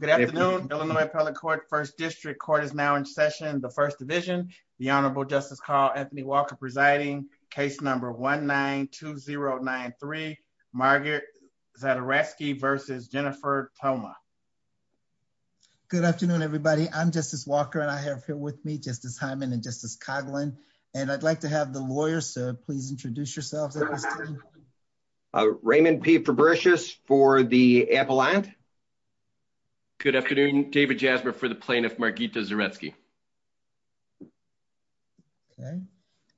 Good afternoon, Illinois Appellate Court, First District. Court is now in session, the First Division. The Honorable Justice Carl Anthony Walker presiding, case number 1-9-2-0-9-3, Margaret Zadaratsky versus Jennifer Poma. Good afternoon, everybody. I'm Justice Walker and I have here with me Justice Hyman and Justice Coghlan, and I'd like to have the lawyers to please introduce yourselves. Raymond P. Fabricius for the Appellant. Good afternoon. David Jasmer for the Plaintiff, Margarita Zadaratsky. Okay,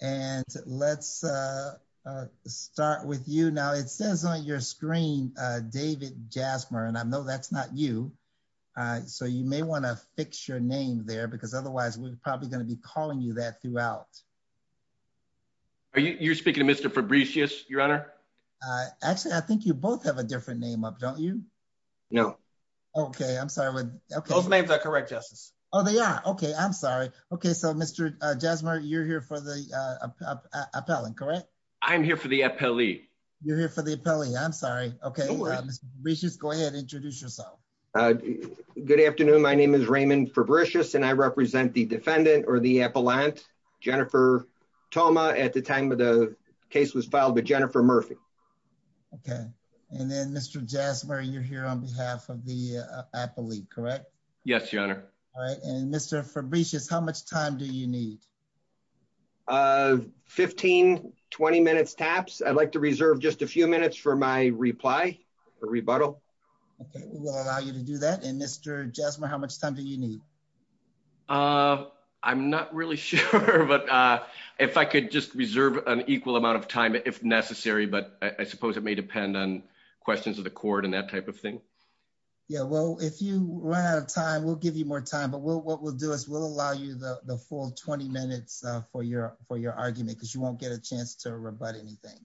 and let's start with you. Now, it says on your screen, David Jasmer, and I know that's not you, so you may want to fix your name there because otherwise we're probably going to be calling you that throughout. You're speaking to Mr. Fabricius, Your Honor? Actually, I think you both have a different name, don't you? No. Okay, I'm sorry. Both names are correct, Justice. Oh, they are? Okay, I'm sorry. Okay, so Mr. Jasmer, you're here for the Appellant, correct? I'm here for the Appellee. You're here for the Appellee. I'm sorry. Okay, Mr. Fabricius, go ahead and introduce yourself. Good afternoon. My name is Raymond Fabricius and I represent the Defendant or the Appellant, Jennifer Poma, at the time the case was filed with Jennifer Murphy. Okay, and then Mr. Jasmer, you're here on behalf of the Appellee, correct? Yes, Your Honor. All right, and Mr. Fabricius, how much time do you need? 15, 20 minutes taps. I'd like to reserve just a few minutes for my reply, for rebuttal. Okay, we'll allow you to do that. And Mr. Jasmer, how much time do you need? I'm not really sure, but if I could just reserve an equal amount of time if necessary, but I suppose it may depend on questions of the court and that type of thing. Yeah, well, if you run out of time, we'll give you more time, but what we'll do is we'll allow you the full 20 minutes for your argument because you won't get a chance to rebut anything.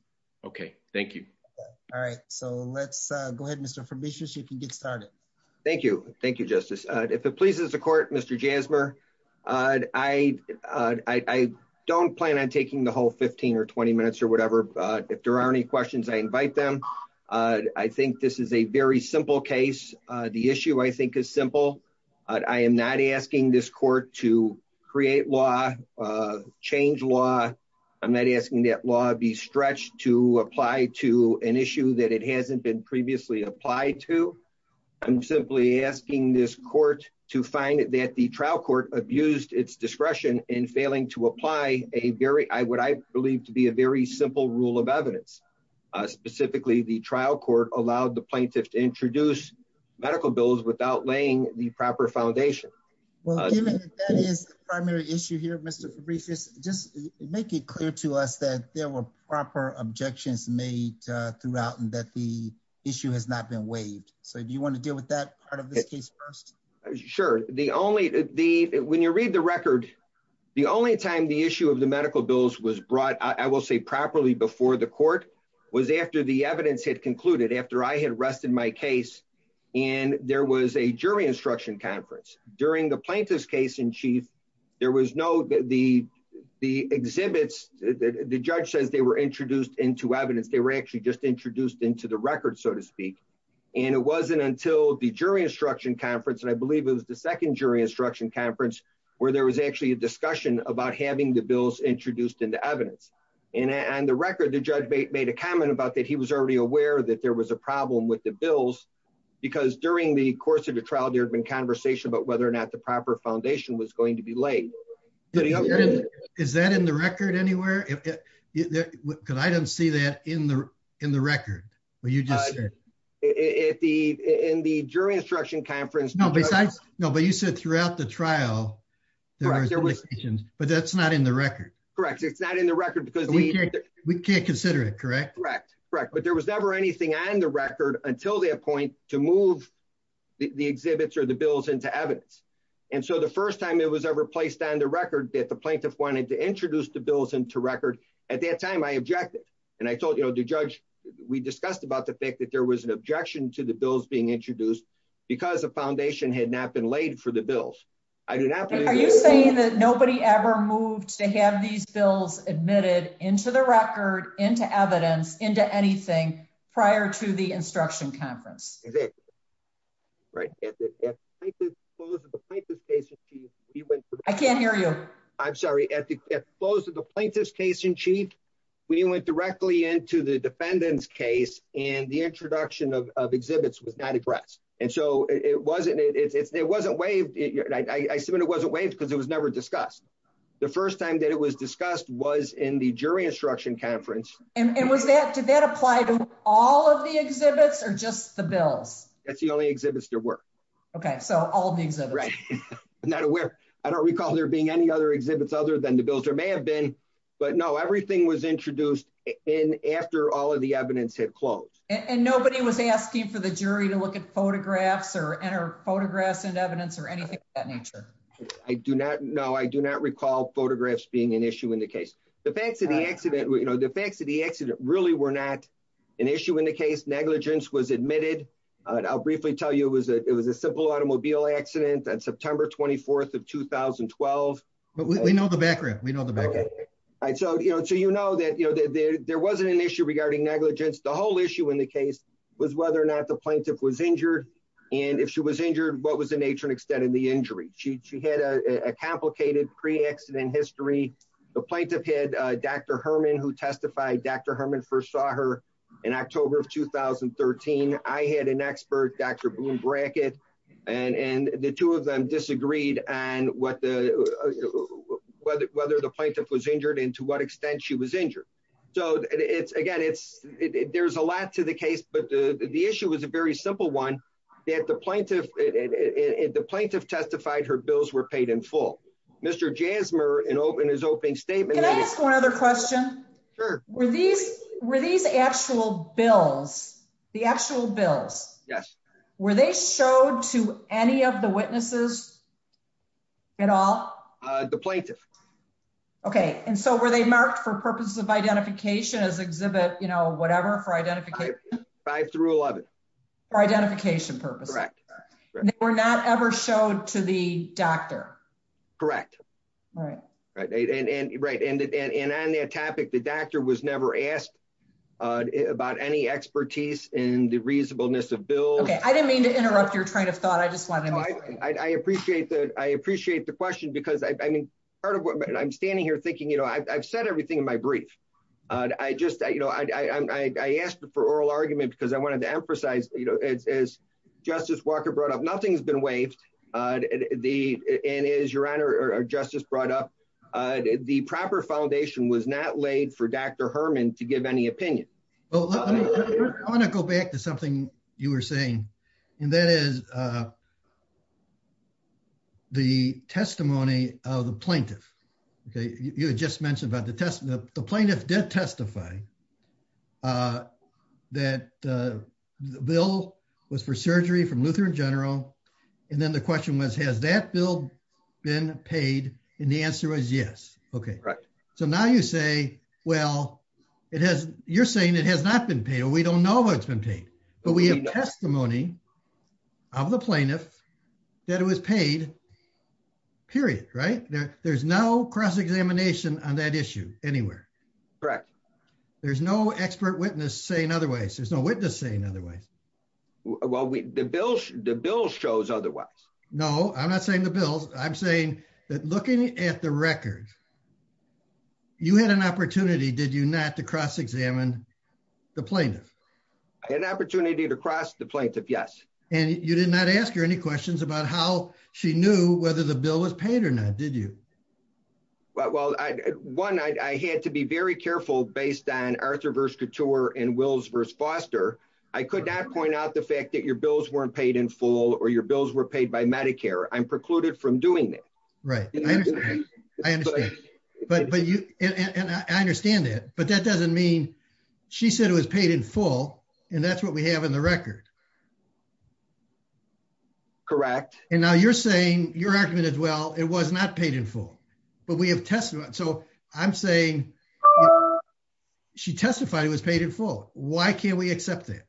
Okay, thank you. All right, so let's go ahead, Mr. Fabricius. You can get started. Thank you. Thank you, Justice. If it pleases the court, Mr. Jasmer, I don't plan on taking the whole 15 or 20 minutes or whatever, but if there are any questions, I invite them. I think this is a very simple case. The issue, I think, is simple. I am not asking this court to create law, change law. I'm not asking that law be stretched to apply to an issue that it hasn't been previously applied to. I'm simply asking this court to find that the trial court abused its discretion in failing to apply what I believe to be a very simple rule of evidence. Specifically, the trial court allowed the plaintiff to introduce medical bills without laying the proper foundation. Well, even if that is the primary issue here, Mr. Fabricius, just make it clear to us that there were proper objections made throughout and that the issue has not been waived. So, do you want to deal with that part of the case first? Sure. When you read the record, the only time the issue of the medical bills was brought, I will say, properly before the court was after the evidence had concluded, after I had rested my case and there was a jury instruction conference. During the plaintiff's case in chief, there was no... The judge said they were introduced into evidence. They were actually just introduced into the record, so to speak. It wasn't until the jury instruction conference, it was the second jury instruction conference, where there was actually a discussion about having the bills introduced into evidence. On the record, the judge made a comment about that he was already aware that there was a problem with the bills because during the course of the trial, there had been conversation about whether or not the proper foundation was going to be laid. Is that in the record anywhere? Because I don't see that in the record. No. In the jury instruction conference... No, but you said throughout the trial, but that's not in the record. Correct. It's not in the record because... We can't consider it, correct? Correct. But there was never anything on the record until that point to move the exhibits or the bills into evidence. So, the first time it was ever placed on the record that the plaintiff wanted to introduce the bills into record, at that time I objected. And I told the judge, we discussed about the fact that there was an objection to the bills being introduced because the foundation had not been laid for the bills. Are you saying that nobody ever moved to have these bills admitted into the record, into evidence, into anything prior to the instruction conference? Right. At the close of the plaintiff's case... I can't hear you. I'm sorry. At the close of the plaintiff's case in chief, we went directly into the defendant's case and the introduction of exhibits with Natty Bratz. And so, it wasn't waived. I assume it wasn't waived because it was never discussed. The first time that it was discussed was in the jury instruction conference. And did that apply to all of the exhibits or just the bills? That's the only exhibits there were. Okay. So, all the exhibits. I'm not aware. I don't recall there being any other exhibits other than the bills. There may have been, but no, everything was introduced after all of the evidence had closed. And nobody was asking for the jury to look at photographs or photographs and evidence or anything of that nature? No, I do not recall photographs being an issue in the case. The facts of the accident really were not an issue in the case. Negligence was admitted. I'll briefly tell you it was a simple automobile accident on September 24th of 2012. But we know the background. We know the background. So, you know that there wasn't an issue regarding negligence. The whole issue in the case was whether or not the plaintiff was injured. And if she was injured, what was the nature and extent of the injury? She had a complicated pre-accident history. The plaintiff had Dr. Herman who testified. Dr. Herman first saw her in October of 2013. I had an expert, Dr. Bloom-Brackett, and the two of them disagreed on whether the plaintiff was injured and to what extent she was injured. So, again, there's a lot to the case, but the issue was a very simple one. The plaintiff testified her bills were paid in full. Mr. Jasmer, in his opening statement... One other question. Were these actual bills, the actual bills, were they showed to any of the witnesses at all? The plaintiff. Okay. And so were they marked for purposes of identification as exhibit, you know, whatever for identification? By the rule of it. For identification purposes? Correct. They were not ever showed to the doctor? Correct. Right. Right. And on that topic, the doctor was never asked about any expertise in the reasonableness of bills. Okay. I didn't mean to interrupt your train of thought. I just wanted to... I appreciate that. I appreciate the question because, I mean, part of what I'm standing here thinking, you know, I've said everything in my brief. I just, you know, I asked for oral arguments because I wanted to emphasize, you know, as Justice Walker brought up, nothing's waived. And as your Honor or Justice brought up, the proper foundation was not laid for Dr. Herman to give any opinion. I want to go back to something you were saying, and that is the testimony of the plaintiff. Okay. You had just mentioned about the test. The plaintiff did testify that the bill was for surgery from Lutheran General. And then the question was, has that bill been paid? And the answer was yes. Okay. So now you say, well, it has... you're saying it has not been paid, or we don't know what's been paid. But we have testimony of the plaintiff that it was paid, period. Right? There's no cross-examination on that issue anywhere. Correct. There's no expert witness saying otherwise. There's no witness saying otherwise. Well, the bill shows otherwise. No, I'm not saying the bill. I'm saying that looking at the record, you had an opportunity, did you not, to cross-examine the plaintiff? An opportunity to cross the plaintiff, yes. And you did not ask her any questions about how she knew whether the bill was paid or not, did you? Well, one, I had to be very careful based on Arthur v. Couture and Wills v. Foster. I could not point out the fact that your bills weren't paid in full, or your bills were paid by Medicare. I'm precluded from doing that. Right. I understand that. But that doesn't mean... she said it was paid in full, and that's what we have in the record. Correct. And now you're saying, your argument as well, it was not paid in full, but we have testimony. So I'm saying she testified it was paid in full. Why can't we accept that?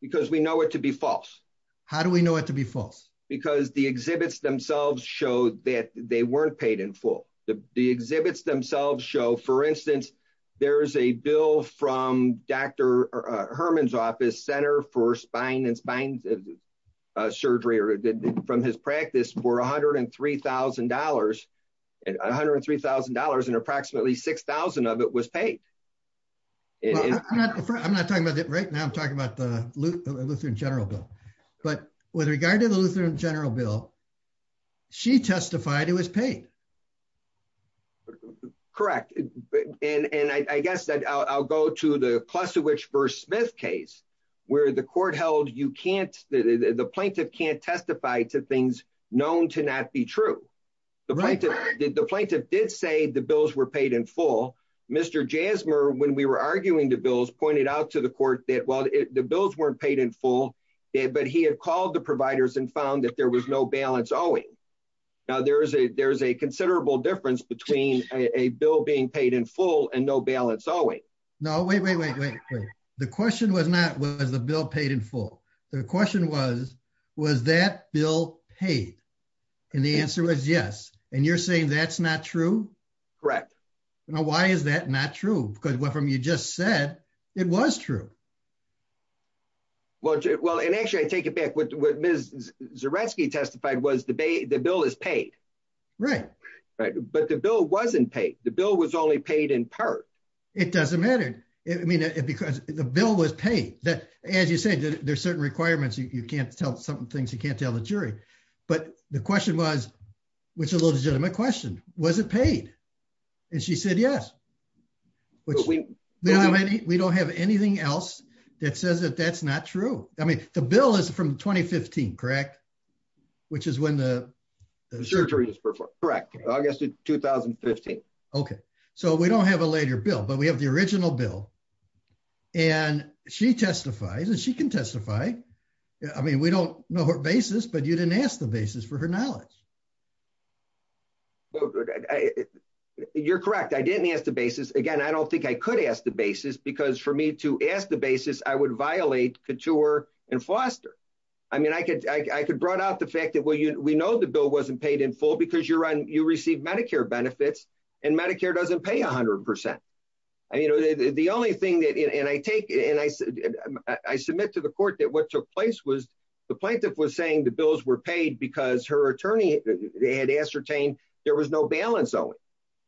Because we know it to be false. How do we know it to be false? Because the exhibits themselves show that they weren't paid in full. The exhibits themselves show, for instance, there's a bill from Dr. Herman's office, Center for Spine and Spine Surgery, or from his practice, for $103,000. And approximately 6,000 of it was paid. I'm not talking about that right now. I'm talking about the Lutheran General Bill. But with regard to the Lutheran General Bill, she testified it was paid. Correct. And I guess I'll go to the Pleszewicz v. Smith case, where the court held you can't... the plaintiff can't testify to things known to not be true. The plaintiff did say the bills were paid in full. Mr. Jasmer, when we were arguing the bills, pointed out to the court that, well, the bills weren't paid in full, but he had called the providers and found that there was no balance owing. Now, there's a considerable difference between a bill being paid in full and no balance owing. No, wait, wait, wait, wait. The question was not, was the bill paid in full? The question was, was that bill paid? And the answer was yes. And you're saying that's not true? Correct. Now, why is that not true? Because from what you just said, it was true. Well, and actually, I take it back. What Ms. Zaretsky testified was the bill is paid. Right. But the bill wasn't paid. The bill was only paid in part. It doesn't matter. I mean, because the bill was paid. As you said, there's certain requirements, you can't tell some things you can't tell the jury. But the question was, which is a legitimate question. Was it paid? And she said, yes. We don't have anything else that says that that's not true. I mean, the bill is from 2015, correct? Which is when the surgery was performed. Correct. August of 2015. Okay. So we don't have a later bill, but we have the original bill. And she testifies and she can testify. I mean, we don't know her basis, but you didn't ask the basis for her knowledge. You're correct. I didn't ask the basis. Again, I don't think I could ask the basis because for me to ask the basis, I would violate Couture and Foster. I mean, I could I could brought out the fact that we know the bill wasn't paid in full because you receive Medicare benefits and Medicare doesn't pay 100%. The only thing that I take and I submit to the court that what took place was the plaintiff was saying the bills were paid because her attorney had ascertained there was no balance owing.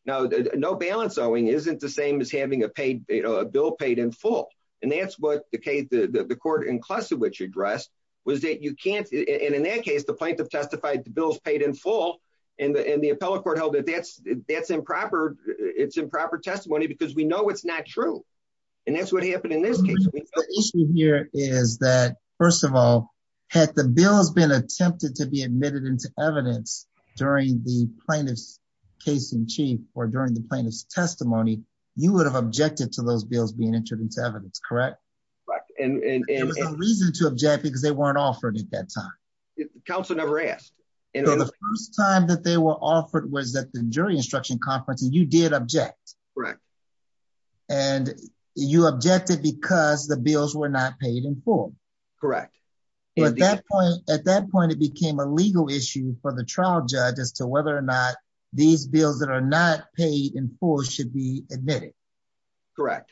Now, no balance owing isn't the same as having a bill paid in full. And that's what the court in Klusiewicz addressed was that you can't. And in that case, the plaintiff testified the bill's paid in full and the appellate court held that that's improper. It's improper testimony because we know it's not true. And that's what happened in this case. The issue here is that, first of all, had the bill has been attempted to be admitted into evidence during the plaintiff's case in chief or during the plaintiff's testimony, you would have objected to those bills being introduced to evidence, correct? Right. And there's no reason to object because they weren't offered at that time. Counselor never asked. So the first time that they were offered was at the jury instruction conference and you did object. Right. And you objected because the bills were not paid in full. Correct. At that point, it became a legal issue for the trial judge as to whether or not these bills that are not paid in full should be admitted. Correct.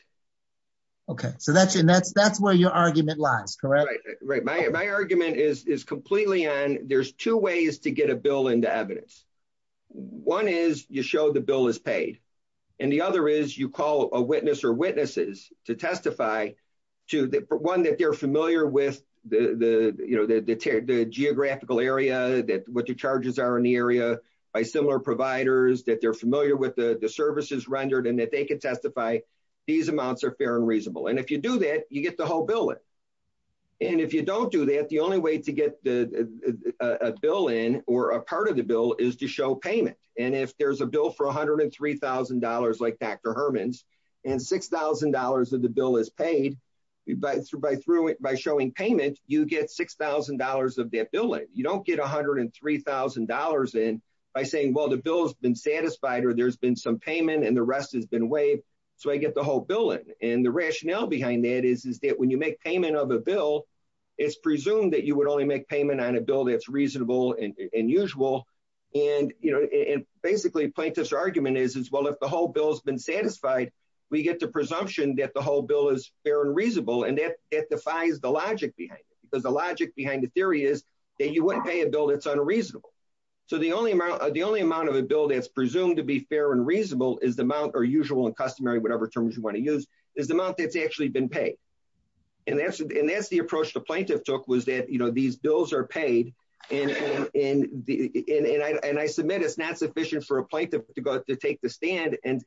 Okay. So that's where your argument lies, correct? Right. My argument is completely on there's two ways to get a bill into evidence. One is you show the bill is paid and the other is you call a witness to testify to one that they're familiar with the geographical area, what the charges are in the area by similar providers, that they're familiar with the services rendered and that they can testify these amounts are fair and reasonable. And if you do that, you get the whole bill in. And if you don't do that, the only way to get a bill in or a part of the bill is to show payment. And if there's a bill for $103,000, like Dr. Herman's and $6,000 of the bill is paid, by showing payment, you get $6,000 of that bill. You don't get $103,000 in by saying, well, the bill has been satisfied, or there's been some payment and the rest has been waived. So I get the whole bill in. And the rationale behind that is, is that when you make payment of a bill, it's presumed that you would only make payment on a bill that's reasonable and usual. And basically plaintiff's argument is, well, if the whole bill has been satisfied, we get the presumption that the whole bill is fair and reasonable. And that defies the logic behind it. Because the logic behind the theory is that you wouldn't pay a bill that's unreasonable. So the only amount of a bill that's presumed to be fair and reasonable is the amount, or usual and customary, whatever terms you want to use, is the amount that's actually been paid. And that's approach the plaintiff took was that, you know, these bills are paid. And I submit it's not sufficient for a plaintiff to go out to take the stand and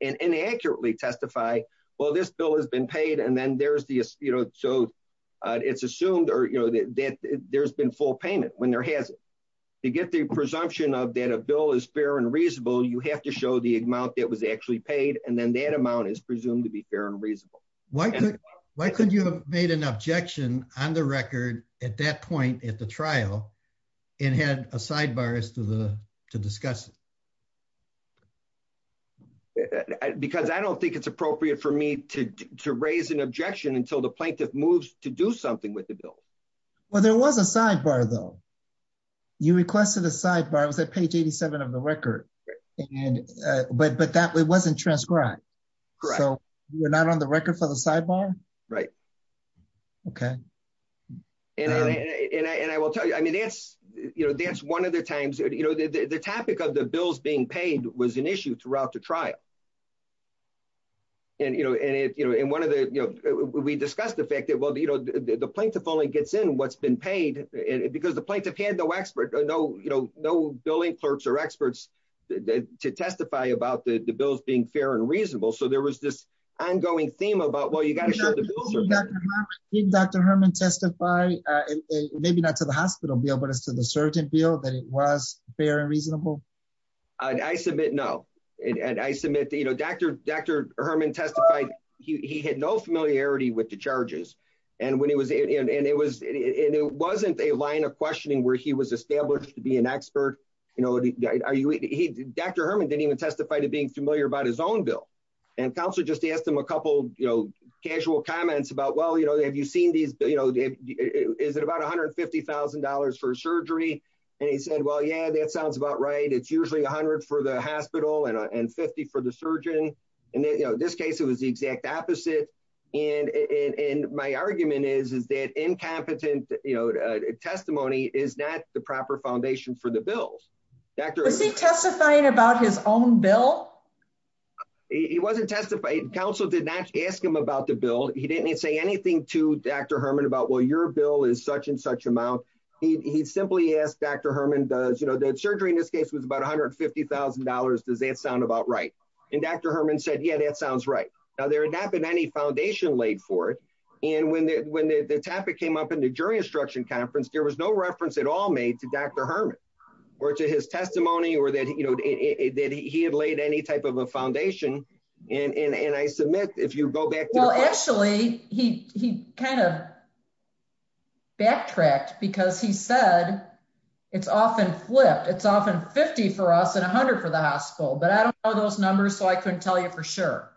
inaccurately testify, well, this bill has been paid, and then there's the, you know, so it's assumed or, you know, that there's been full payment when there hasn't. To get the presumption of that a bill is fair and reasonable, you have to show the amount that was actually paid, and then that amount is presumed to be fair and reasonable. Why couldn't you have made an objection on the record at that point at the trial, and had a sidebar to discuss it? Because I don't think it's appropriate for me to raise an objection until the plaintiff moves to do something with the bill. Well, there was a sidebar, though. You requested a sidebar that page 87 of the record, but that wasn't transcribed, so you're not on the records of the sidebar? Right. Okay. And I will tell you, I mean, that's, you know, that's one of the times, you know, the topic of the bills being paid was an issue throughout the trial. And, you know, and one of the, you know, we discussed the fact that, well, you know, the plaintiff only gets in what's been paid because the plaintiff had no expert, no, you know, no billing clerks or experts to testify about the bills being fair and reasonable. So there was this ongoing theme about, well, you got to show the bills are fair. Did Dr. Herman testify, maybe not to the hospital, but to the surgeon field, that it was fair and reasonable? I submit no. And I submit, you know, Dr. Herman testified he had no familiarity with the charges, and when it was, and it was, and it wasn't a line of questioning where he was you know, are you, he, Dr. Herman didn't even testify to being familiar about his own bill. And counselor just asked him a couple, you know, casual comments about, well, you know, have you seen these, you know, is it about $150,000 for surgery? And he said, well, yeah, that sounds about right. It's usually a hundred for the hospital and 50 for the surgeon. And, you know, this case, it was the exact opposite. And, and my argument is, is that incompetent, you know, testimony, is that the proper foundation for the bills? Was he testifying about his own bill? He wasn't testifying. Counsel did not ask him about the bill. He didn't say anything to Dr. Herman about, well, your bill is such and such amount. He simply asked Dr. Herman does, you know, that surgery in this case was about $150,000. Does that sound about right? And Dr. Herman said, yeah, that sounds right. Now there had not been any foundation laid for it. And when, when the topic came up in the jury instruction conference, there was no reference at all made to Dr. Herman or to his testimony or that, you know, that he had laid any type of a foundation. And, and, and I submit, if you go back. Well, actually he, he kind of. Backtracked because he said it's often flipped. It's often 50 for us and a hundred for the hospital, but I don't know those numbers. So I couldn't tell you for sure.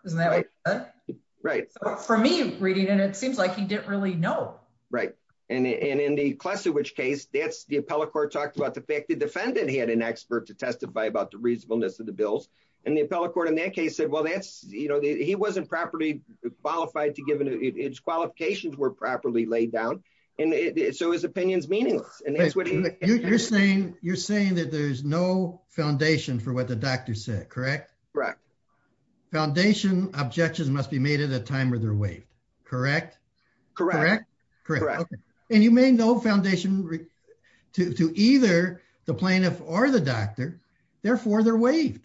Right. For me, it's reading and it seems like he didn't really know. Right. And, and in the class, in which case that's the appellate court talked about the fact that the defendant had an expert to testify about the reasonableness of the bills. And the appellate court in that case said, well, that's, you know, he wasn't properly qualified to give him its qualifications were properly laid down. And so his opinion is meaningless. And that's what you're saying. You're saying that there's no foundation for what the doctor said, correct? Foundation objections must be made at a time where they're waived. Correct. Correct. Correct. And you may know foundation to either the plaintiff or the doctor, therefore they're waived.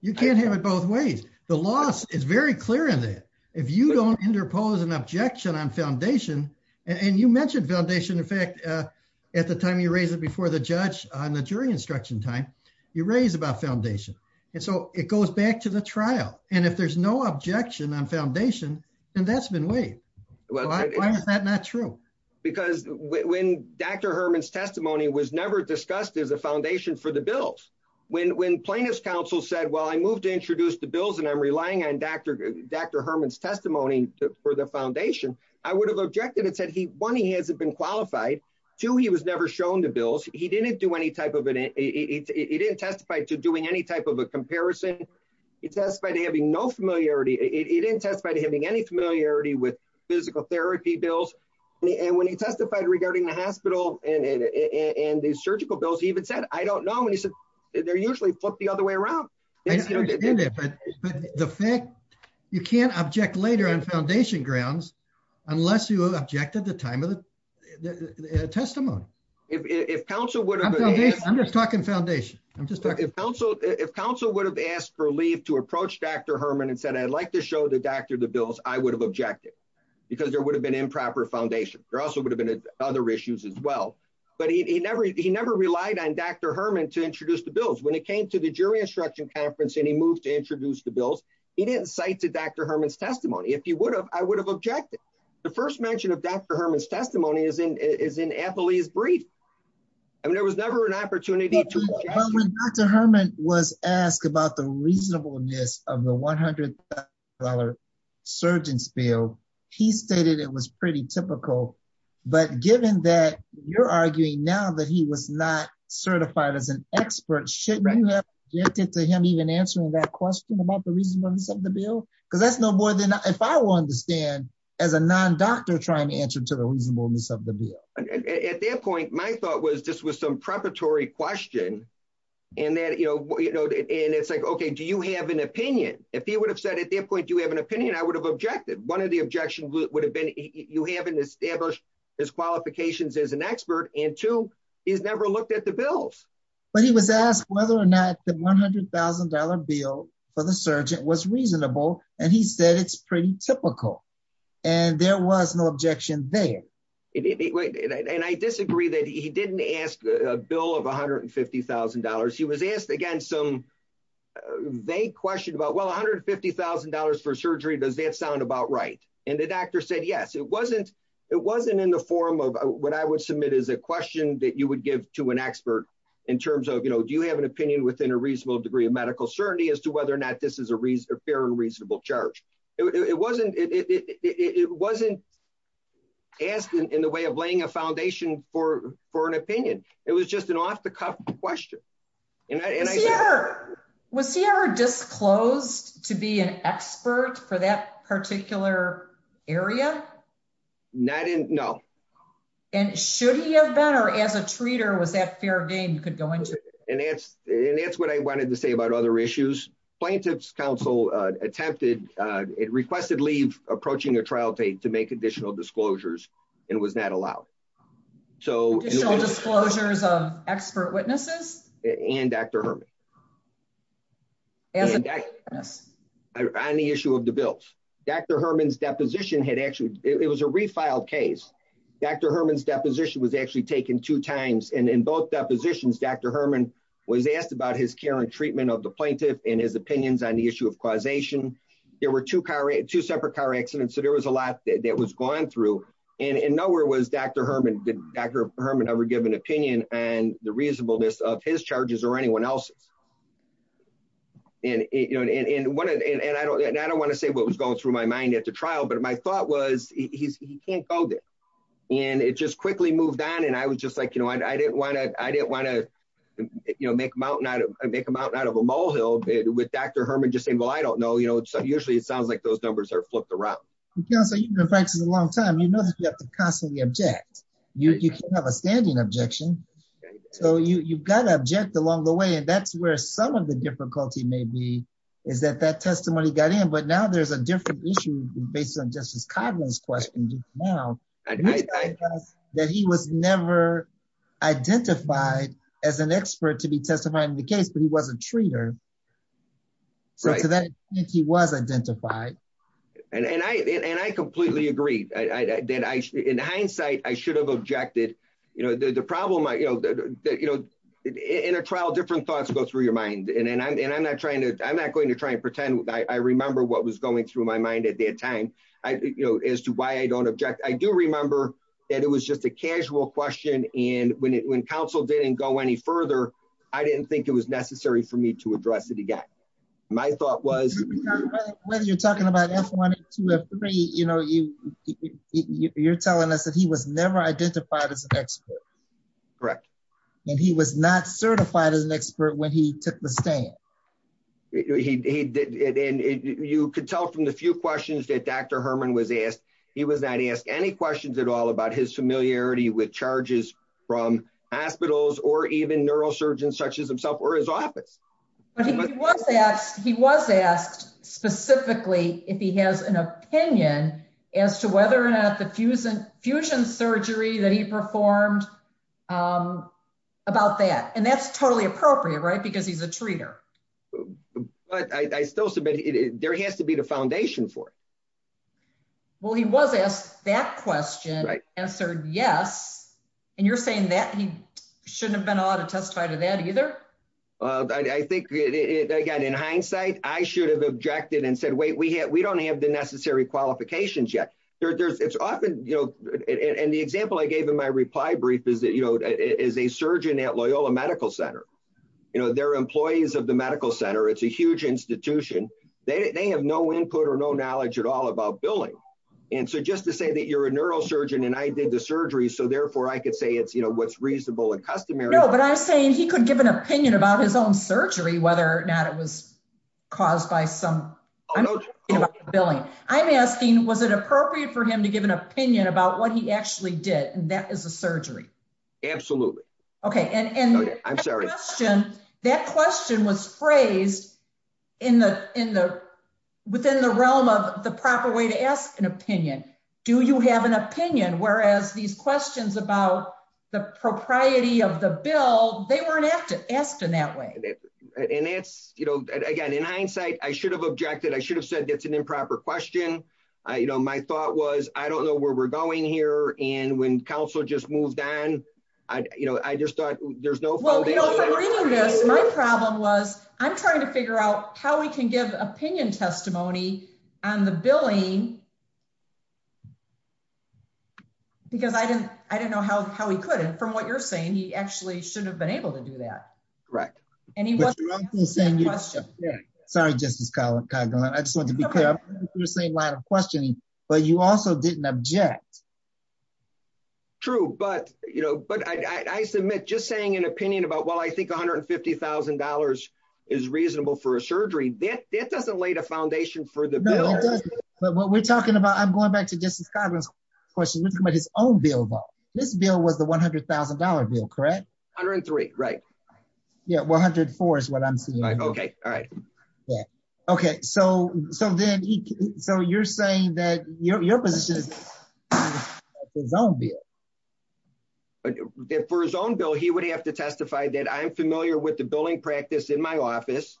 You can't have it both ways. The law is very clear on that. If you don't interpose an objection on foundation and you mentioned foundation, in fact, at the time you raised it before the judge on the jury instruction time, you raised about foundation. And so it goes back to the trial. And if there's no objection on foundation and that's been waived, why is that not true? Because when Dr. Herman's testimony was never discussed as a foundation for the bills, when, when plaintiff's counsel said, well, I moved to introduce the bills and I'm relying on Dr. Dr. Herman's testimony for the foundation, I would have objected and said, he, one, he hasn't been qualified to, he was never shown the bills. He didn't do any type of it. He didn't testify to doing any type of a comparison. He testified to having no familiarity. He didn't testify to having any familiarity with physical therapy bills. And when he testified regarding the hospital and the surgical bills, he even said, I don't know. And he said, they're usually flipped the other way around. The fact you can't object later on foundation grounds, unless you object at the time of the if, if counsel would have, I'm just talking foundation. I'm just talking to counsel. If counsel would have asked for leave to approach Dr. Herman and said, I'd like to show the doctor, the bills I would have objected because there would have been improper foundation. There also would have been other issues as well, but he never, he never relied on Dr. Herman to introduce the bills when it came to the jury instruction conference and he moved to introduce the bills. He didn't say to Dr. Herman's testimony, if he would have, I would have objected. The first mention of Dr. Herman's testimony is in, is in Affily's brief. And there was never an opportunity to Dr. Herman was asked about the reasonableness of the $100,000 surgeon's bill. He stated it was pretty typical, but given that you're arguing now that he was not certified as an expert, shouldn't you have objected to him even answering that question about the reasonableness of the bill? Because that's no more than if I want to stand as a non-doctor trying to answer to the reasonableness of the bill. At that point, my thought was this was some preparatory question and that, you know, and it's like, okay, do you have an opinion? If he would have said at that point, do you have an opinion? I would have objected. One of the objections would have been you haven't established his qualifications as an expert and two, he's never looked at the bills. But he was asked whether or not the $100,000 bill for the surgeon was reasonable. And he said, it's pretty typical. And there was no objection there. And I disagree that he didn't ask a bill of $150,000. He was asked again, some vague question about, well, $150,000 for surgery, does that sound about right? And the doctor said, yes, it wasn't. It wasn't in the form of what I would submit as a question that you would give to an expert in terms of, you know, do you have an opinion within a reasonable degree of medical certainty as to whether or not this is a fair and reasonable charge? It wasn't, it wasn't asked in the way of laying a foundation for an opinion. It was just an off the cuff question. Was he ever disclosed to be an expert for that particular area? Not in, no. And should he have been, or as a treater, was that fair game to go into? And that's, and that's what I wanted to say about other issues. Plaintiff's counsel attempted, it requested leave approaching a trial date to make additional disclosures and was not allowed. So, Additional disclosures of expert witnesses? And Dr. Herman. On the issue of the bills. Dr. Herman's deposition had actually, it was a refiled case. Dr. Herman's deposition was actually taken two times and in both depositions, Dr. Herman was asked about his care and treatment of the plaintiff and his opinions on the issue of causation. There were two separate car accidents, so there was a lot that was going through. And nowhere was Dr. Herman ever given an opinion on the reasonableness of his charges or anyone else. And I don't want to say what was going through my mind at the trial, but my thought was he can't code it. And it just quickly moved on. And I was just like, you know, I didn't want to, I didn't want to, you know, make a mountain out of a molehill with Dr. Herman just saying, well, I don't know, you know, usually it sounds like those numbers are flipped around. Counsel, you've been practicing a long time. You notice you have to constantly object. You can't have a standing objection. So you've got to object along the way. And that's where some of the difficulty may be is that that testimony got in, but now there's a different issue based on Justice Kavanaugh's questions now, that he was never identified as an expert to be testifying in the case, but he wasn't treated. So to that extent, he was identified. And I completely agree. In hindsight, I should have objected. You know, the problem, you know, in a trial, different thoughts go through your mind. And I'm not trying to, I'm not going to pretend. I remember what was going through my mind at that time. I, you know, as to why I don't object, I do remember that it was just a casual question. And when it, when counsel didn't go any further, I didn't think it was necessary for me to address it again. My thought was when you're talking about S1, S2, S3, you know, you're telling us that he was never identified as an expert. Correct. And he was not certified as an expert when he took the stand. He did. And you could tell from the few questions that Dr. Herman was asked, he was not asked any questions at all about his familiarity with charges from hospitals or even neurosurgeons such as himself or his office. He was asked specifically if he has an opinion as to whether or not the fusion surgery that he performed about that. And that's totally appropriate, right? Because he's a treater. But I still submit, there has to be the foundation for it. Well, he was asked that question, answered yes. And you're saying that he shouldn't have been autotestified to that either? I think, again, in hindsight, I should have objected and said, wait, we don't have the necessary qualifications yet. There's, it's often, you know, and the brief is that, you know, is a surgeon at Loyola Medical Center. You know, they're employees of the medical center. It's a huge institution. They have no input or no knowledge at all about billing. And so just to say that you're a neurosurgeon and I did the surgery, so therefore I could say it's, you know, what's reasonable and customary. No, but I'm saying he could give an opinion about his own surgery, whether or not it was caused by some billing. I'm asking, was it appropriate for him to give an opinion about what he actually did? And that is a surgery. Absolutely. Okay. And I'm sorry. That question was phrased in the, within the realm of the proper way to ask an opinion. Do you have an opinion? Whereas these questions about the propriety of the bill, they weren't asked in that way. And that's, you know, again, in hindsight, I should have objected. I should have said it's an improper question. I, you know, my thought was, I don't know where we're going here. And when counsel just moved on, I, you know, I just thought there's no problem. I'm trying to figure out how we can give opinion testimony on the billing. Because I didn't, I didn't know how, how he put it from what you're saying. He actually shouldn't have been able to do that. Right. And he, I'm just saying, I just want to be clear, but you also didn't object. True. But, you know, but I, I submit just saying an opinion about, well, I think $150,000 is reasonable for a surgery. That doesn't lay the foundation for the bill. But what we're talking about, I'm going back to this question about his own bill. This bill was the $100,000 bill, correct? 103. Right. Yeah. 104 is what I'm seeing. Okay. All right. Yeah. Okay. So, so then he, so you're saying that your, your position don't be for his own bill. He would have to testify that I'm familiar with the billing practice in my office.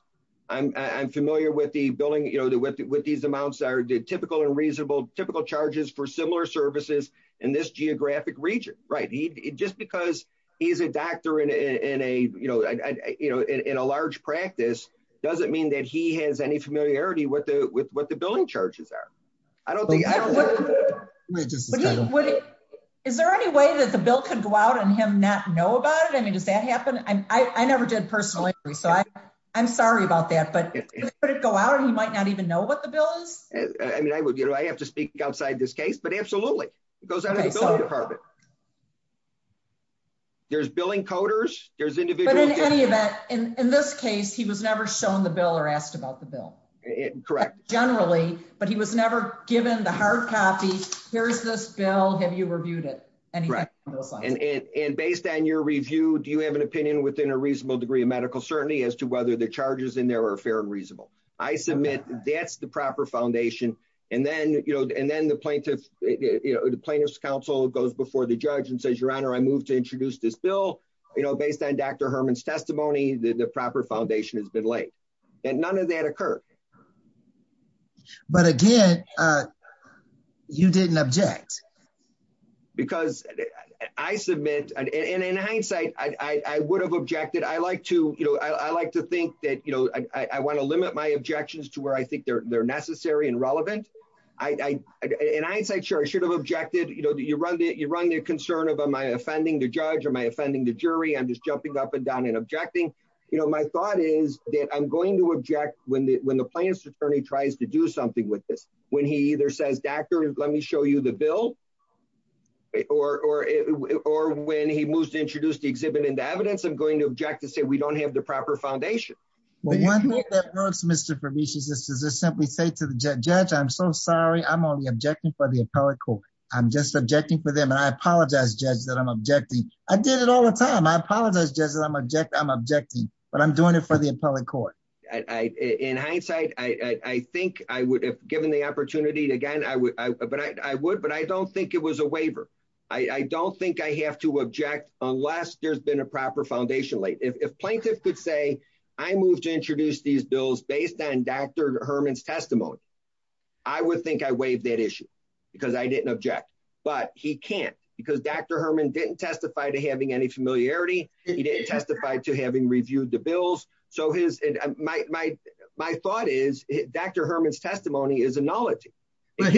I'm, I'm familiar with the billing, you know, the, with the, with these amounts are typical and reasonable, typical charges for similar services in this geographic region, right? Just because he's a doctor in a, in a, you know, in a large practice, doesn't mean that he has any familiarity with the, with what the billing charges are. Is there any way that the bill can go out and him not know about it? I mean, does that happen? And I never did personally. So I, I'm sorry about that, but it go out and might not even know what the bill is. I mean, I would, you know, I have to speak outside this case, but absolutely. It goes out of the department. There's billing coders. There's individual. In this case, he was never shown the bill or asked about the bill. Correct. Generally, but he was never given the hard copy. Here's this bill. Have you reviewed it? And based on your review, do you have an opinion within a reasonable degree as to whether the charges in there are fair and reasonable? I submit that's the proper foundation. And then, you know, and then the plaintiff, you know, the plaintiff's counsel goes before the judge and says, your honor, I moved to introduce this bill, you know, based on Dr. Herman's testimony, the proper foundation has been laid and none of that occurred. But again, you didn't object. Because I submit, and in hindsight, I would have objected. I like to, you know, I like to think that, you know, I want to limit my objections to where I think they're necessary and relevant. I, in hindsight, sure, I should have objected. You know, you run the, you run the concern of, am I offending the judge or am I offending the jury? I'm just jumping up and down and objecting. You know, my thought is that I'm going to object when the, when the plaintiff's doctor is, let me show you the bill, or, or, or when he moves to introduce the exhibit into evidence, I'm going to object and say, we don't have the proper foundation. Well, one thing that I've noticed, Mr. Provicius, is to just simply say to the judge, I'm so sorry, I'm only objecting for the appellate court. I'm just objecting for them. And I apologize, judge, that I'm objecting. I did it all the time. I apologize, judge, that I'm objecting. But I'm doing it for the appellate court. In hindsight, I think I would have given the opportunity again, I would, I would, but I don't think it was a waiver. I don't think I have to object unless there's been a proper foundation late. If plaintiff could say, I moved to introduce these bills based on Dr. Herman's testimony, I would think I waived that issue because I didn't object. But he can't because Dr. Herman didn't testify to having any familiarity. He didn't testify to having reviewed the bills. So his, my, my, my thought is Dr. Herman's testimony is a knowledge. Great.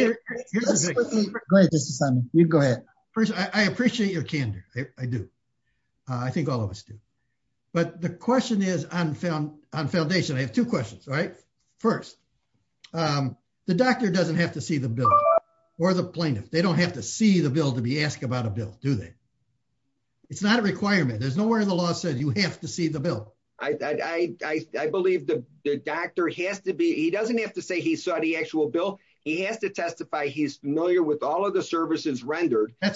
You go ahead. First, I appreciate your candor. I do. I think all of us do. But the question is, I'm found on foundation. I have two questions, right? First, the doctor doesn't have to see the bill or the plaintiff. They don't have to see the bill to be asked about a bill, do they? It's not a requirement. There's nowhere in the law says you have to see the bill. I, I, I, I believe the doctor has to be, he doesn't have to say he saw the actual bill. He has to testify. He's familiar with all of the services rendered. But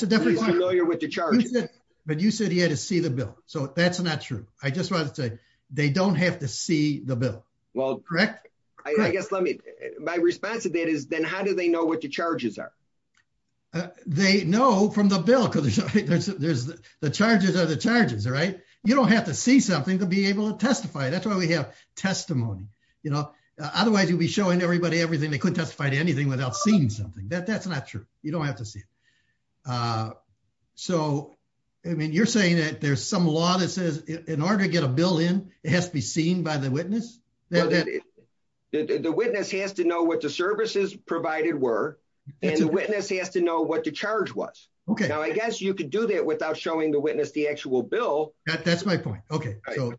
you said he had to see the bill. So that's not true. I just wanted to say they don't have to see the bill. Well, correct. I guess let me, my response to that is then how do they know what the charges are? They know from the bill because there's the charges are the charges, right? You don't have to see something to be able to testify. That's why we have testimony. You know, otherwise you'd be showing everybody everything. They couldn't testify to anything without seeing something that that's not true. You don't have to see it. So, I mean, you're saying that there's some law that says in order to get a bill in, it has to be seen by the witness. The witness has to know what the services provided were, and the witness has to know what the charge was. Okay. Now, I guess you could do that without showing the witness, the actual bill. That's my point. Okay. So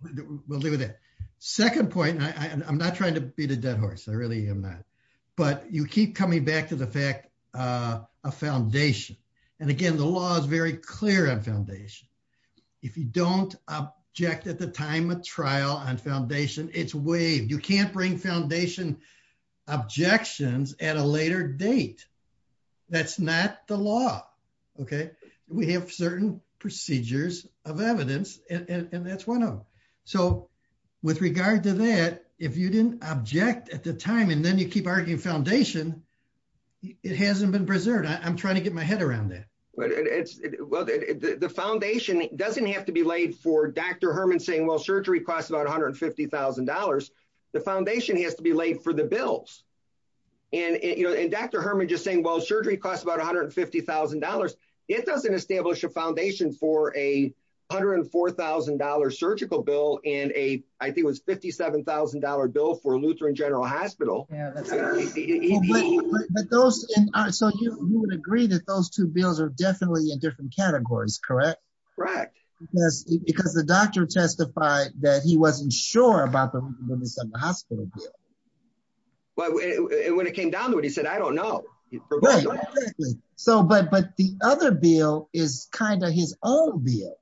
we'll do that. Second point, and I'm not trying to beat a dead horse. I really am not. But you keep coming back to the fact of foundation. And again, the law is very clear on foundation. If you don't object at the time of trial on foundation, it's waived. You can't bring foundation objections at a later date. That's not the law. Okay. We have certain procedures of evidence, and that's one of them. So, with regard to that, if you didn't object at the time, and then you keep arguing foundation, it hasn't been preserved. I'm trying to get my head around that. Well, the foundation doesn't have to be laid for Dr. Herman saying, well, surgery costs about $150,000. The foundation has to be laid for the bills. And Dr. Herman just saying, well, surgery costs about $150,000. It doesn't establish a foundation for a $104,000 surgical bill and a, I think it was $57,000 bill for Lutheran General Hospital. So you would agree that those two bills are definitely in different categories, correct? Right. Because the doctor testified that he wasn't sure about the hospital bill. Well, when it came down to it, he said, I don't know. So, but the other bill is kind of his own bill.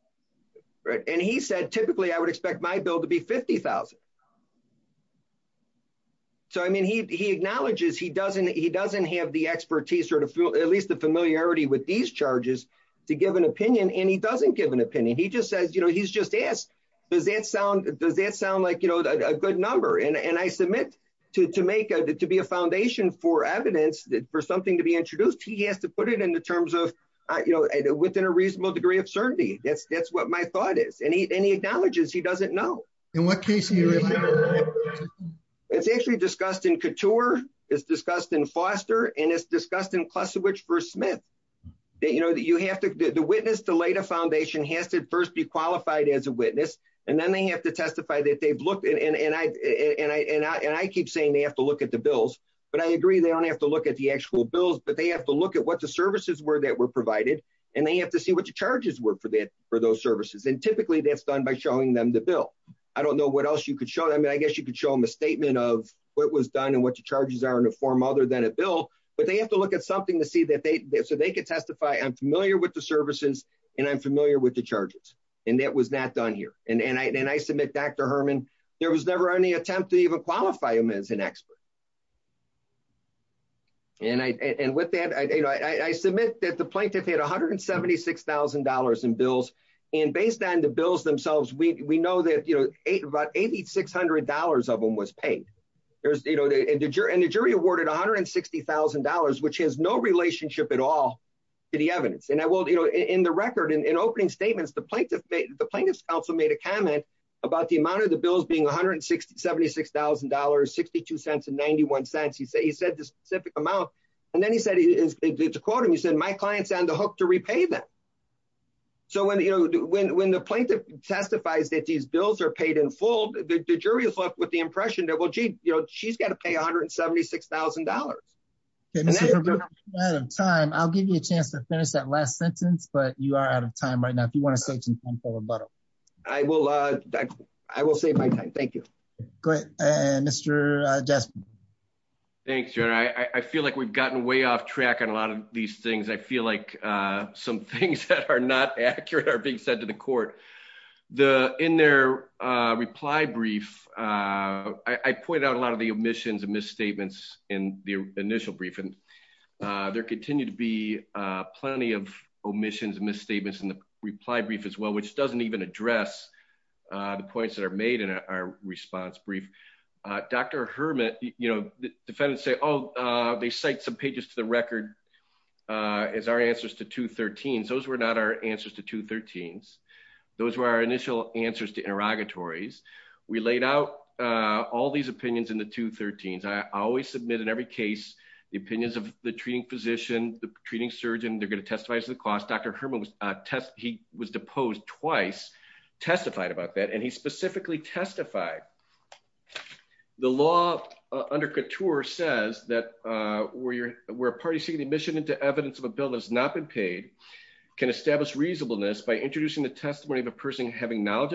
Right. And he said, typically I would expect my bill to be $50,000. So, I mean, he acknowledges he doesn't have the expertise or at least the familiarity with these charges to give an opinion, and he doesn't give an opinion. He just says, you know, he's just asked, does that sound, does that sound like, you know, a good number? And I submit to, to make a, to be a foundation for evidence that for something to be introduced, he has to put it in the terms of, you know, within a reasonable degree of certainty. That's, that's what my thought is. And he, and he acknowledges he doesn't know. It's actually discussed in Couture. It's discussed in Foster and it's discussed in Klesiewicz v. Smith. That, you know, that you have to, the witness to lay the foundation has to first be qualified as a witness. And then they have to testify that they've looked at, and I, and I, and I keep saying they have to look at the bills, but I agree. They don't have to look at the actual bills, but they have to look at what the services were that were provided. And they have to see what the charges were for that, for those services. And typically that's done by showing them the bill. I don't know what else you could show them. I guess you could show them a statement of what was done and what the charges are in a form other than a bill, but they have to look at something to see that they, so they could testify. I'm familiar with the services and I'm familiar with the charges and that was that done here. And I, and I submit back to Herman, there was never any attempt to even qualify him as an expert. And I, and with that, I, you know, I, I submit that the plaintiff had $176,000 in bills. And based on the bills themselves, we, we know that, you know, eight, about $8,600 of them was paid. There's, you know, and the jury awarded $160,000, which has no relationship at all to the evidence. And I will, you know, in the record and in opening statements, the plaintiff, the plaintiff's counsel made a comment about the amount of the bills being $176,000, 62 cents and 91 cents. He said, he said the specific amount. And then he said, it's according, he said, my client's on the hook to repay that. So when, you know, when, when the plaintiff testifies that these bills are paid in full, the jury is left with the impression that, well, gee, you know, she's got to pay $176,000. I'll give you a chance to finish that last sentence, but you are out of time right now. If you want to take some time for rebuttal. I will, I will save my time. Thank you. Great. And Mr. Justin. Thanks, Jerry. I feel like we've gotten way off track on a lot of these things. I feel like some things that are not accurate are being said to the court. The, in their reply brief, I pointed out a lot of the omissions and misstatements in the initial briefing. There continue to be plenty of omissions and misstatements in the reply brief as well, which doesn't even address the points that are made in our response brief. Dr. Hermit, you know, defendants say, oh, they cite some pages to the record as our answers to 213. Those were not our answers to interrogatories. We laid out all these opinions in the 213s. I always submit in every case, the opinions of the treating physician, the treating surgeon, they're going to testify as to the cost. Dr. Herman test, he was deposed twice, testified about that. And he specifically testified. The law under couture says that where you're, where a party seeking admission into evidence of a bill has not been paid can establish reasonableness by introducing the testimony of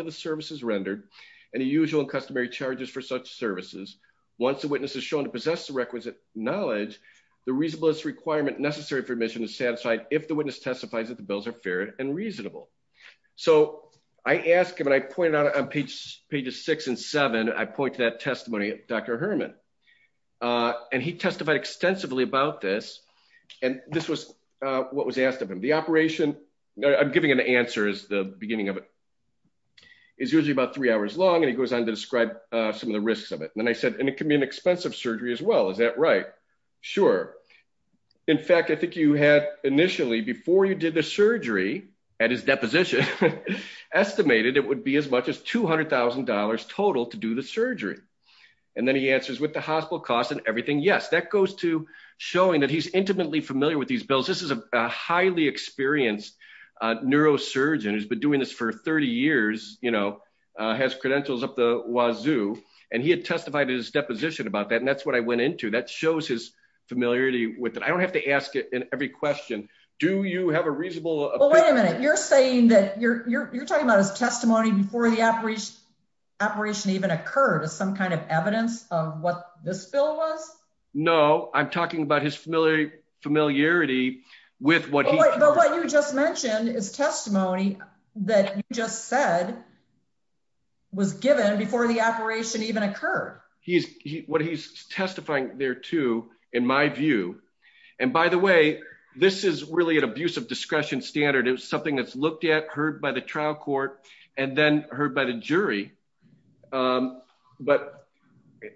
a services rendered and the usual customary charges for such services. Once the witness is shown to possess the requisite knowledge, the reasonableness requirement necessary for admission is satisfied if the witness testifies that the bills are fair and reasonable. So I asked him, and I pointed out on pages six and seven, I point to that testimony of Dr. Herman. And he testified extensively about this. And this was what was asked of him. The operation, I'm giving him the answers, the is usually about three hours long and he goes on to describe some of the risks of it. And then I said, and it can be an expensive surgery as well. Is that right? Sure. In fact, I think you had initially before you did the surgery at his deposition estimated, it would be as much as $200,000 total to do the surgery. And then he answers with the hospital costs and everything. Yes, that goes to showing that he's intimately familiar with these bills. This is a highly experienced neurosurgeon. He's been doing this for 30 years, has credentials up the wazoo, and he had testified at his deposition about that. And that's what I went into. That shows his familiarity with it. I don't have to ask it in every question. Do you have a reasonable- Well, wait a minute. You're saying that you're talking about his testimony before the operation even occurred as some kind of evidence of what this bill was? No, I'm talking about his familiarity with what he- But what you just mentioned is testimony that you just said was given before the operation even occurred. What he's testifying there too, in my view, and by the way, this is really an abuse of discretion standard. It was something that's looked at, heard by the trial court, and then heard by the jury. But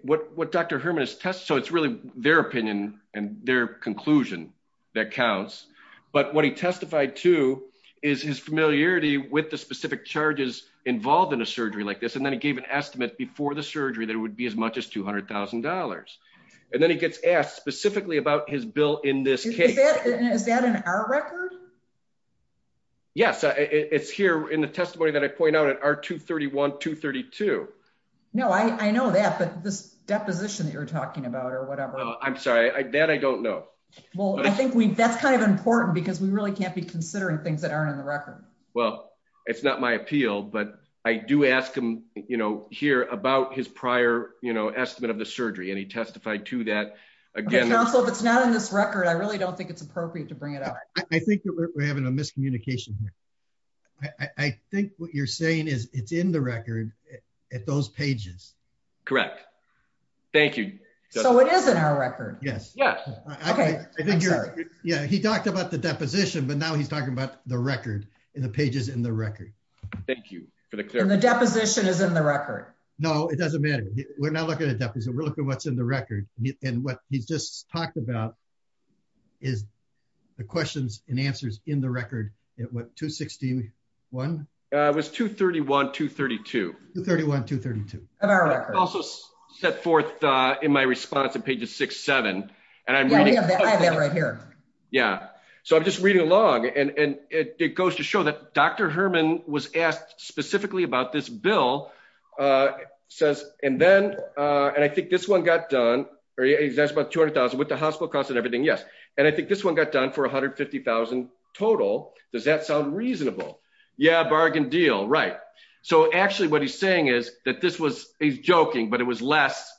what Dr. Herman has testified, so it's really their opinion and their conclusion that counts. But what he testified to is his familiarity with the specific charges involved in a surgery like this. And then he gave an estimate before the surgery that it would be as much as $200,000. And then he gets asked specifically about his bill in this case. Is that in our records? Yes. It's here in the testimony that I point out at R231, 232. No, I know that, but this deposition that you're talking about or whatever. Oh, I'm sorry. That I don't know. Well, I think that's kind of important because we really can't be considering things that aren't on the record. Well, it's not my appeal, but I do ask him here about his prior estimate of the surgery, and he testified to that. Again- Counsel, if it's not in this record, I really don't think it's appropriate to bring it up. I think that we're having a miscommunication here. I think what you're saying is it's in the record at those pages. Correct. Thank you. So it is in our record? Yes. Yes. Okay. Yeah. He talked about the deposition, but now he's talking about the record and the pages in the record. Thank you for the clarification. And the deposition is in the record? No, it doesn't matter. We're not looking at a deposition. We're looking at what's in the and answers in the record at what, 261? It was 231, 232. 231, 232. In our record. Also set forth in my response on page 6-7. Yeah, I have that right here. Yeah. So I'm just reading along, and it goes to show that Dr. Herman was asked specifically about this bill, says, and then, and I think this one got done, or he asked about $200,000 with the hospital cost and everything. Yes. And I think this one got done for $150,000 total. Does that sound reasonable? Yeah. Bargain deal. Right. So actually what he's saying is that this was, he's joking, but it was less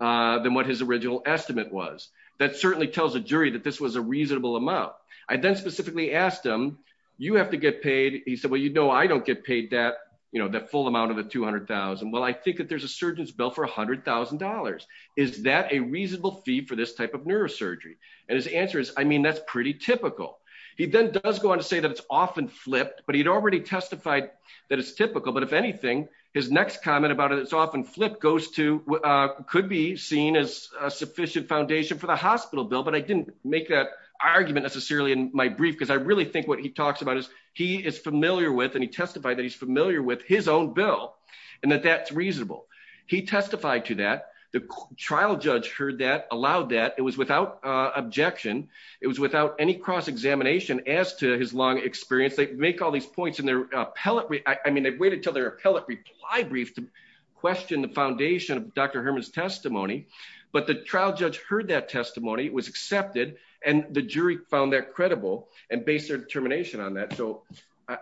than what his original estimate was. That certainly tells the jury that this was a reasonable amount. I then specifically asked him, you have to get paid. He said, well, you know, I don't get paid that, you know, that full amount of the $200,000. Well, I think that there's a surgeon's bill for $100,000. Is that a reasonable fee for this type of neurosurgery? And his answer is, I mean, that's pretty typical. He then does go on to say that it's often flipped, but he'd already testified that it's typical, but if anything, his next comment about it, it's often flipped goes to, could be seen as a sufficient foundation for the hospital bill. But I didn't make that argument necessarily in my brief, because I really think what he talks about is he is familiar with, and he testified that he's familiar with his own bill and that that's reasonable. He testified to that. The trial judge heard that, allowed that. It was without objection. It was without any cross-examination as to his long experience. They make all these points in their appellate, I mean, they waited until their appellate reply brief to question the foundation of Dr. Herman's testimony. But the trial judge heard that testimony, it was accepted, and the jury found that credible and based their determination on that. So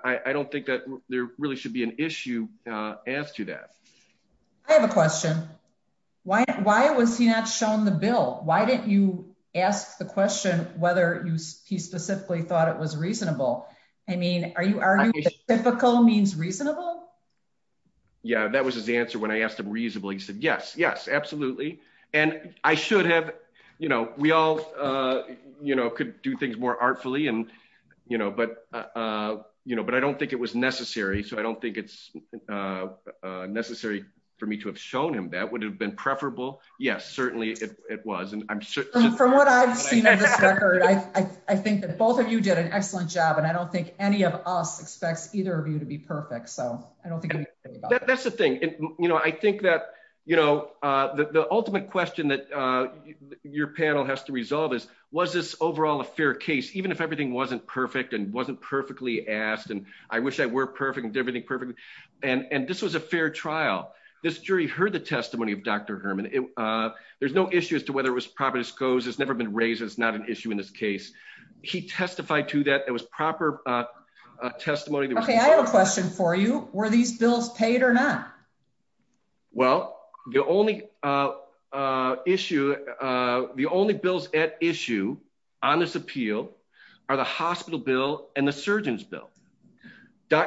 I don't think that there really should be an issue as to that. I have a question. Why was he not shown the bill? Why didn't you ask the question whether he specifically thought it was reasonable? I mean, are you arguing that typical means reasonable? Yeah, that was his answer when I asked him reasonably. He said, yes, yes, absolutely. And I should have, you know, we all, you know, could do things more artfully and, you know, but, you know, but I don't think it was necessary. So I don't think it's necessary for me to have shown him that would have been preferable. Yes, certainly it was. From what I've seen, I think that both of you did an excellent job. And I don't think any of us expect either of you to be perfect. So I don't think that's the thing. You know, I think that, you know, the ultimate question that your panel has to resolve is, was this overall a fair case, even if everything wasn't perfect and wasn't perfectly asked? And I wish I were perfect and everything perfectly. And this was a fair trial. This jury heard the testimony of Dr. Herman. There's no issue as to whether it was proper disclosed. It's never been raised. It's not an issue in this case. He testified to that. It was proper testimony. Okay, I have a question for you. Were these bills paid or not? Well, the only issue, the only bills at issue on this appeal are the hospital bill and the surgeon's bill.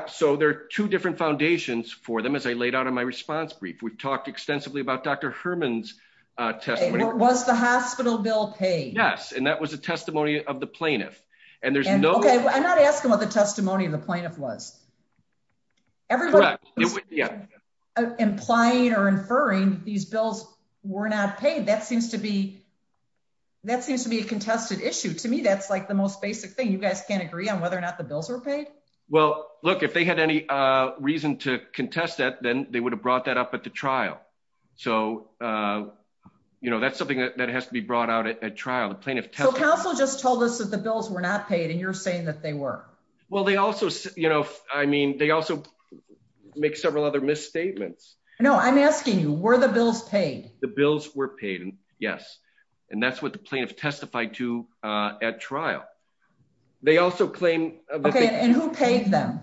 So there are two different foundations for them, as I laid out in my response brief. We've talked extensively about Dr. Herman's testimony. Was the hospital bill paid? Yes. And that was a testimony of the plaintiff. And there's no... Okay, I'm not asking what the testimony of the plaintiff was. Correct. Implying or inferring these bills were not paid, that seems to be a contested issue. To me, that's like the most basic thing. You guys can't agree on whether or not the bills are paid? Well, look, if they had any reason to contest that, then they would have brought that up to trial. So that's something that has to be brought out at trial. The plaintiff testified... So counsel just told us that the bills were not paid, and you're saying that they were. Well, they also... I mean, they also make several other misstatements. No, I'm asking you, were the bills paid? The bills were paid, yes. And that's what the plaintiff testified to at trial. They also claim... Okay, and who paid them?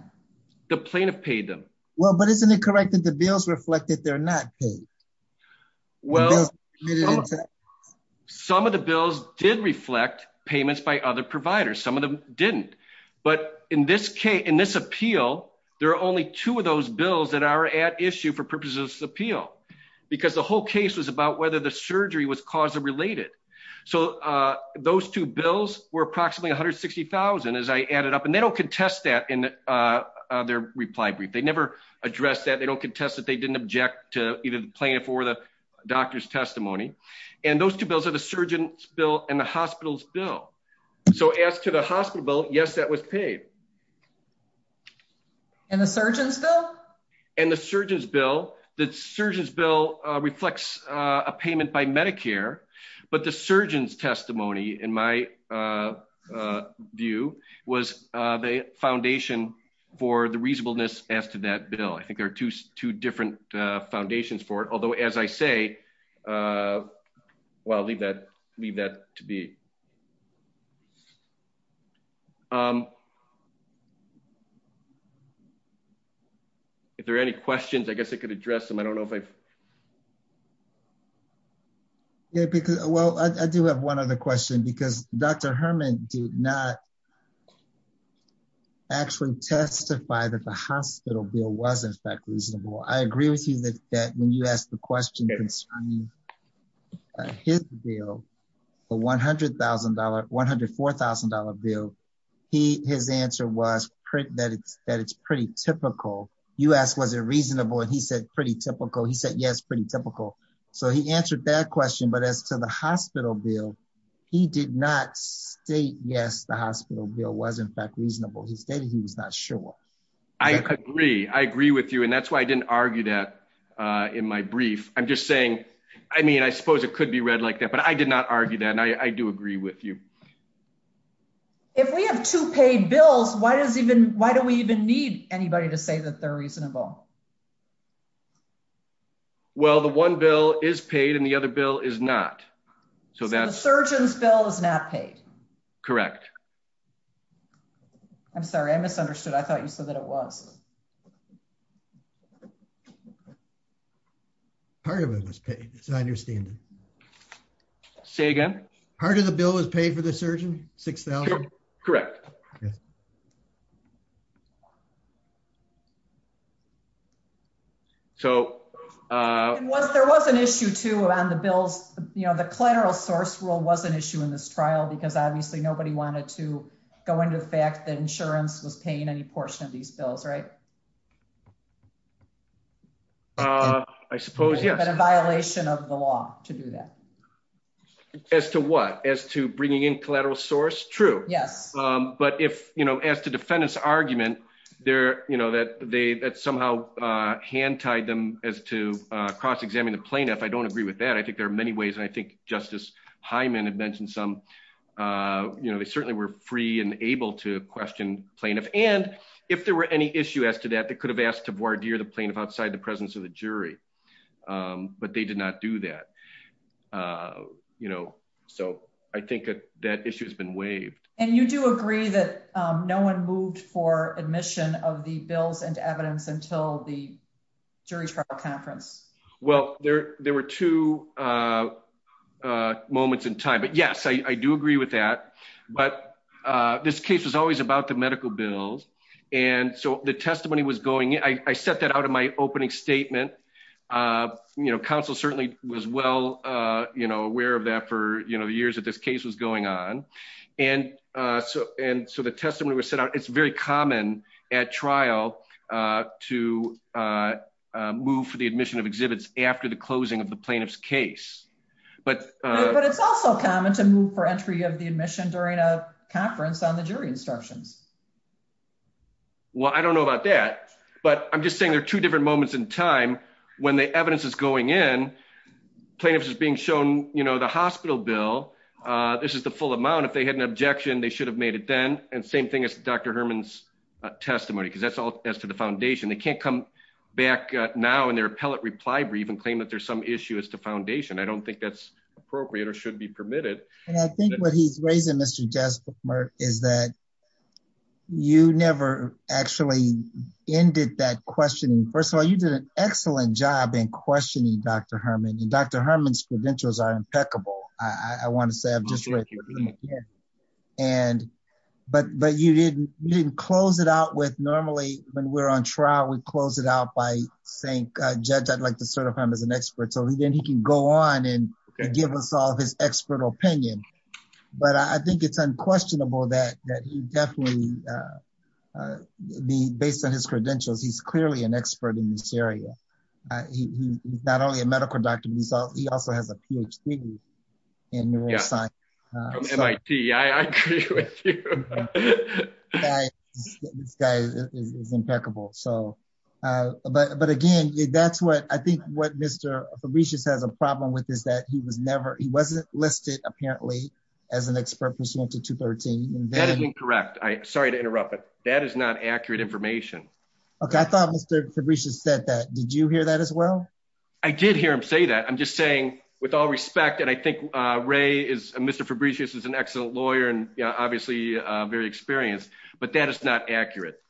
The plaintiff paid them. Well, but isn't it correct that the bills reflect that they're not paid? Well, some of the bills did reflect payments by other providers. Some of them didn't. But in this appeal, there are only two of those bills that are at issue for purposes of this appeal, because the whole case was about whether the surgery was cause-related. So those two bills were approximately $160,000 as I added up. And they don't contest that in their reply brief. They never addressed that. They don't contest that they didn't object to either the plaintiff or the doctor's testimony. And those two bills are the surgeon's bill and the hospital's bill. So as to the hospital bill, yes, that was paid. And the surgeon's bill? And the surgeon's bill. The surgeon's bill reflects a payment by Medicare, but the surgeon's testimony, in my view, was the foundation for the reasonableness as to that bill. I think there are two different foundations for it. Although, as I say, well, I'll leave that to be. If there are any questions, I guess I could address them. I don't know if I... Well, I do have one other question. Because Dr. Herman did not actually testify that the hospital bill wasn't that reasonable. I agree with you that when you asked the question concerning his bill, the $100,000, $104,000 bill, his answer was that it's pretty typical. You asked was it reasonable, and he said pretty typical. He said, yes, pretty typical. So he answered that question. But as to the hospital bill, he did not state, yes, the hospital bill was, in fact, reasonable. He said he was not sure. I agree. I agree with you. And that's why I didn't argue that in my brief. I'm just saying, I mean, I suppose it could be read like that. But I did not argue that. And I do agree with you. If we have two paid bills, why do we even need anybody to say that they're reasonable? Well, the one bill is paid, and the other bill is not. So that's- The surgeon's bill is not paid. Correct. I'm sorry. I misunderstood. I thought you said that it was. Part of it was paid. It's not on your standard. Say again? Part of the bill was paid for the surgeon, $6,000? Correct. And there was an issue, too, around the bills. You know, the collateral source rule was an issue in this trial, because obviously nobody wanted to go into the fact that insurance was paying any portion of these bills, right? I suppose, yes. It's a violation of the law to do that. As to what? As to bringing in collateral source? True. Yes. But as to defendant's argument that somehow hand-tied them as to cross-examining the plaintiff, I don't agree with that. I think there are many ways. And I think Justice Hyman had mentioned some. They certainly were free and able to question plaintiff. And if there were any issue as to that, they could have asked to voir dire the plaintiff outside the presence of the jury. But they did not do that. So I think that issue has been waived. And you do agree that no one moved for admission of the bills and evidence until the jury trial conference? Well, there were two moments in time. But yes, I do agree with that. But this case was always about the medical bills. And so the testimony was going in. I set that out in my opening statement. Counsel certainly was well aware of that for the years that this case was going on. And so the testimony was set out. It's very common at trial to move for the admission of exhibits after the closing of the plaintiff's case. But it's also common to move for entry of the admission during a conference on the jury instructions. Well, I don't know about that. But I'm just saying there are two different moments in time when the evidence is going in. Plaintiff's is being shown the hospital bill. This is the full amount. If they had an objection, they should have made it then. And same thing as Dr. Herman's testimony. Because that's all as to the foundation. They can't come back now and their appellate reply brief and claim that there's some issue as to foundation. I don't think that's appropriate or should be permitted. And I think what he's raising, Mr. Jesper, is that you never actually ended that questioning. First of all, you did an excellent job in questioning Dr. Herman. And Dr. Herman's credentials are impeccable. I want to say I'm just with you. And but you didn't close it out with normally when we're on trial, we close it out by saying, Judge, I'd like to sort of him as an expert. So then he can go on and give us all his expert opinion. But I think it's unquestionable that he definitely, based on his credentials, he's clearly an expert in this area. He's not only a medical doctor. He also has a PhD in neuroscience. Yeah, from MIT. I agree with you. This guy is impeccable. So but again, that's what I think what Mr. Fabricius has a problem with is that he was never he wasn't listed, apparently, as an expert for SAMHSA 213. That is incorrect. Sorry to interrupt. That is not accurate information. OK. I thought Mr. Fabricius said that. Did you hear that as well? I did hear him say that. I'm just saying, with all respect, and I think Ray is Mr. Fabricius is an excellent lawyer and obviously very experienced. But that is not accurate.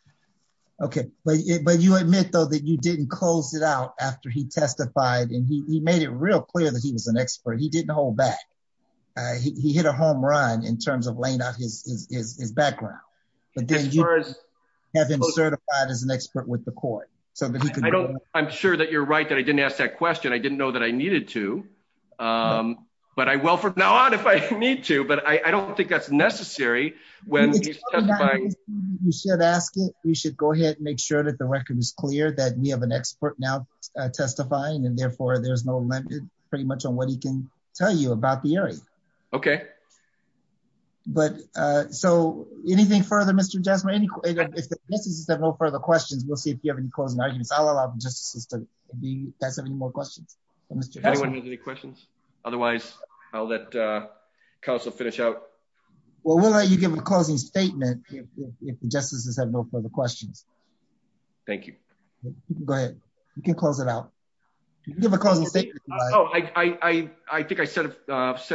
OK, but you admit, though, that you didn't close it out after he testified and he made it real clear that he was an expert. He didn't hold back. He hit a home run in terms of laying out his background. But then you have been certified as an expert with the court. I'm sure that you're right that I didn't ask that question. I didn't know that I needed to. But I will from now on if I need to. But I don't think that's necessary when he's testifying. You should ask it. We should go ahead and make sure that the record is clear that we have an expert now testifying and therefore there's no pretty much on what he can tell you about the area. OK. But so anything further, Mr. Jaffray, if there are no further questions, we'll see if you allow me to ask any more questions. If anyone has any questions. Otherwise, I'll let counsel finish out. Well, we'll let you give a closing statement if the justices have no further questions. Thank you. Go ahead. You can close it out. Oh, I think I said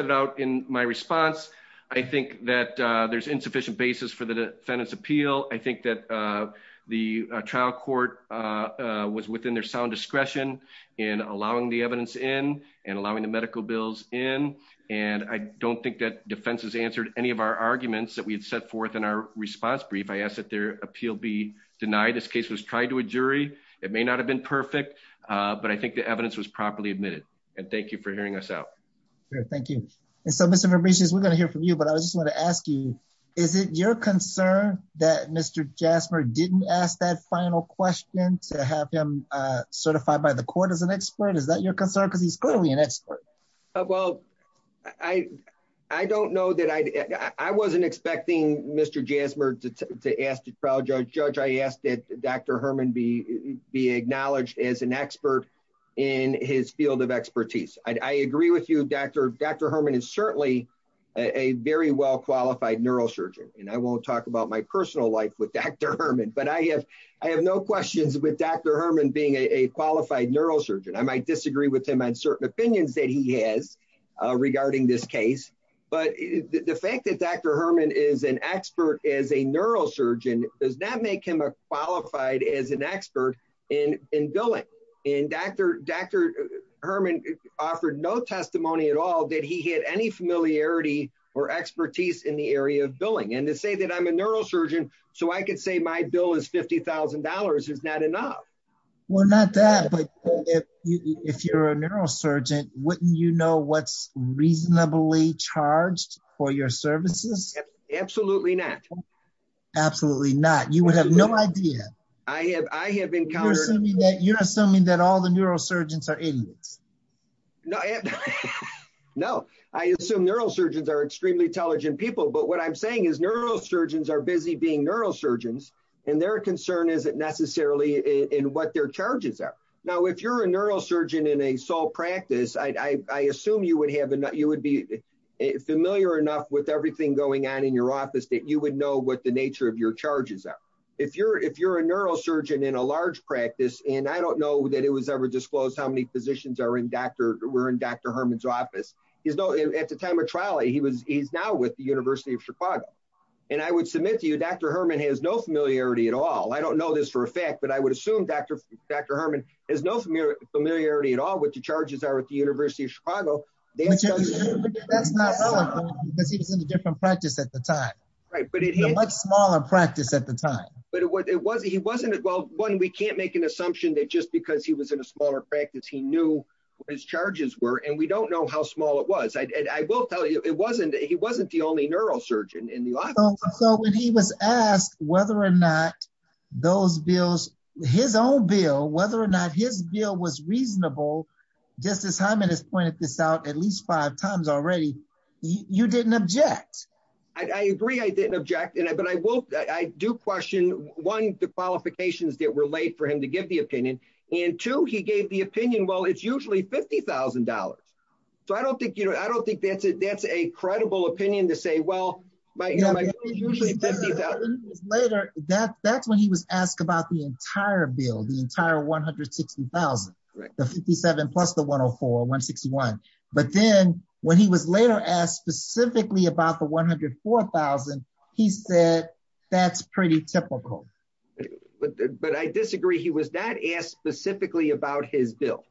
it out in my response. I think that there's insufficient basis for the defendant's appeal. I think that the trial court was within their sound discretion in allowing the evidence in and allowing the medical bills in. And I don't think that defense has answered any of our arguments that we've set forth in our response brief. I ask that their appeal be denied. This case was tried to a jury. It may not have been perfect, but I think the evidence was properly admitted. And thank you for hearing us out. Thank you. And so, Mr. Verbrugis, we're going to hear from you, but I just want to ask you, is it your concern that Mr. Jasmer didn't ask that final question to have him certified by the court as an expert? Is that your concern? Because he's clearly an expert. Well, I don't know that I wasn't expecting Mr. Jasmer to ask the trial judge. Judge, I ask that Dr. Herman be acknowledged as an expert in his field of expertise. I agree with you, Dr. Herman is certainly a very well-qualified neurosurgeon. And I won't talk about my personal life with Dr. Herman, but I have no questions with Dr. Herman being a qualified neurosurgeon. I might disagree with him on certain opinions that he has regarding this case. But the fact that Dr. Herman is an expert as a neurosurgeon does not make him a qualified as an expert in billing. And Dr. Herman offered no testimony at all that he had any familiarity or expertise in the area of billing. And to say that I'm a neurosurgeon, so I could say my bill is $50,000, is that enough? Well, not that, but if you're a neurosurgeon, wouldn't you know what's reasonably charged for your services? Absolutely not. Absolutely not. You would have no idea. I have encountered- You're assuming that all the neurosurgeons are idiots. No, I assume neurosurgeons are extremely intelligent people. But what I'm saying is neurosurgeons are busy being neurosurgeons, and their concern isn't necessarily in what their charges are. Now, if you're a neurosurgeon in a sole practice, I assume you would be familiar enough with everything going on in your office that you would know what the nature of your charges are. If you're a neurosurgeon in a large practice, and I don't know that it was ever disclosed how many physicians were in Dr. Herman's office, at the time of trial, he's now with the University of Chicago. And I would submit to you, Dr. Herman has no familiarity at all. I don't know this for a fact, but I would assume Dr. Herman has no familiarity at all with the charges are at the University of Chicago. But that's not relevant because he's in a different practice at the time. Right, but it is- But he wasn't involved. One, we can't make an assumption that just because he was in a smaller practice, he knew his charges were, and we don't know how small it was. And I will tell you, he wasn't the only neurosurgeon in the office. So when he was asked whether or not those bills, his own bill, whether or not his bill was reasonable, just as Herman has pointed this out at least five times already, you didn't object. I agree I didn't object, but I do question, one, the qualifications that were laid for him to give the opinion, and two, he gave the opinion, well, it's usually $50,000. So I don't think that's a credible opinion to say, well, my bill is usually $50,000. Later, that's when he was asked about the entire bill, the entire $160,000, the $57,000 plus the $104,000, $161,000. But then when he was later asked specifically about the $104,000, he said, that's pretty typical. But I disagree. He was not asked specifically about his bill.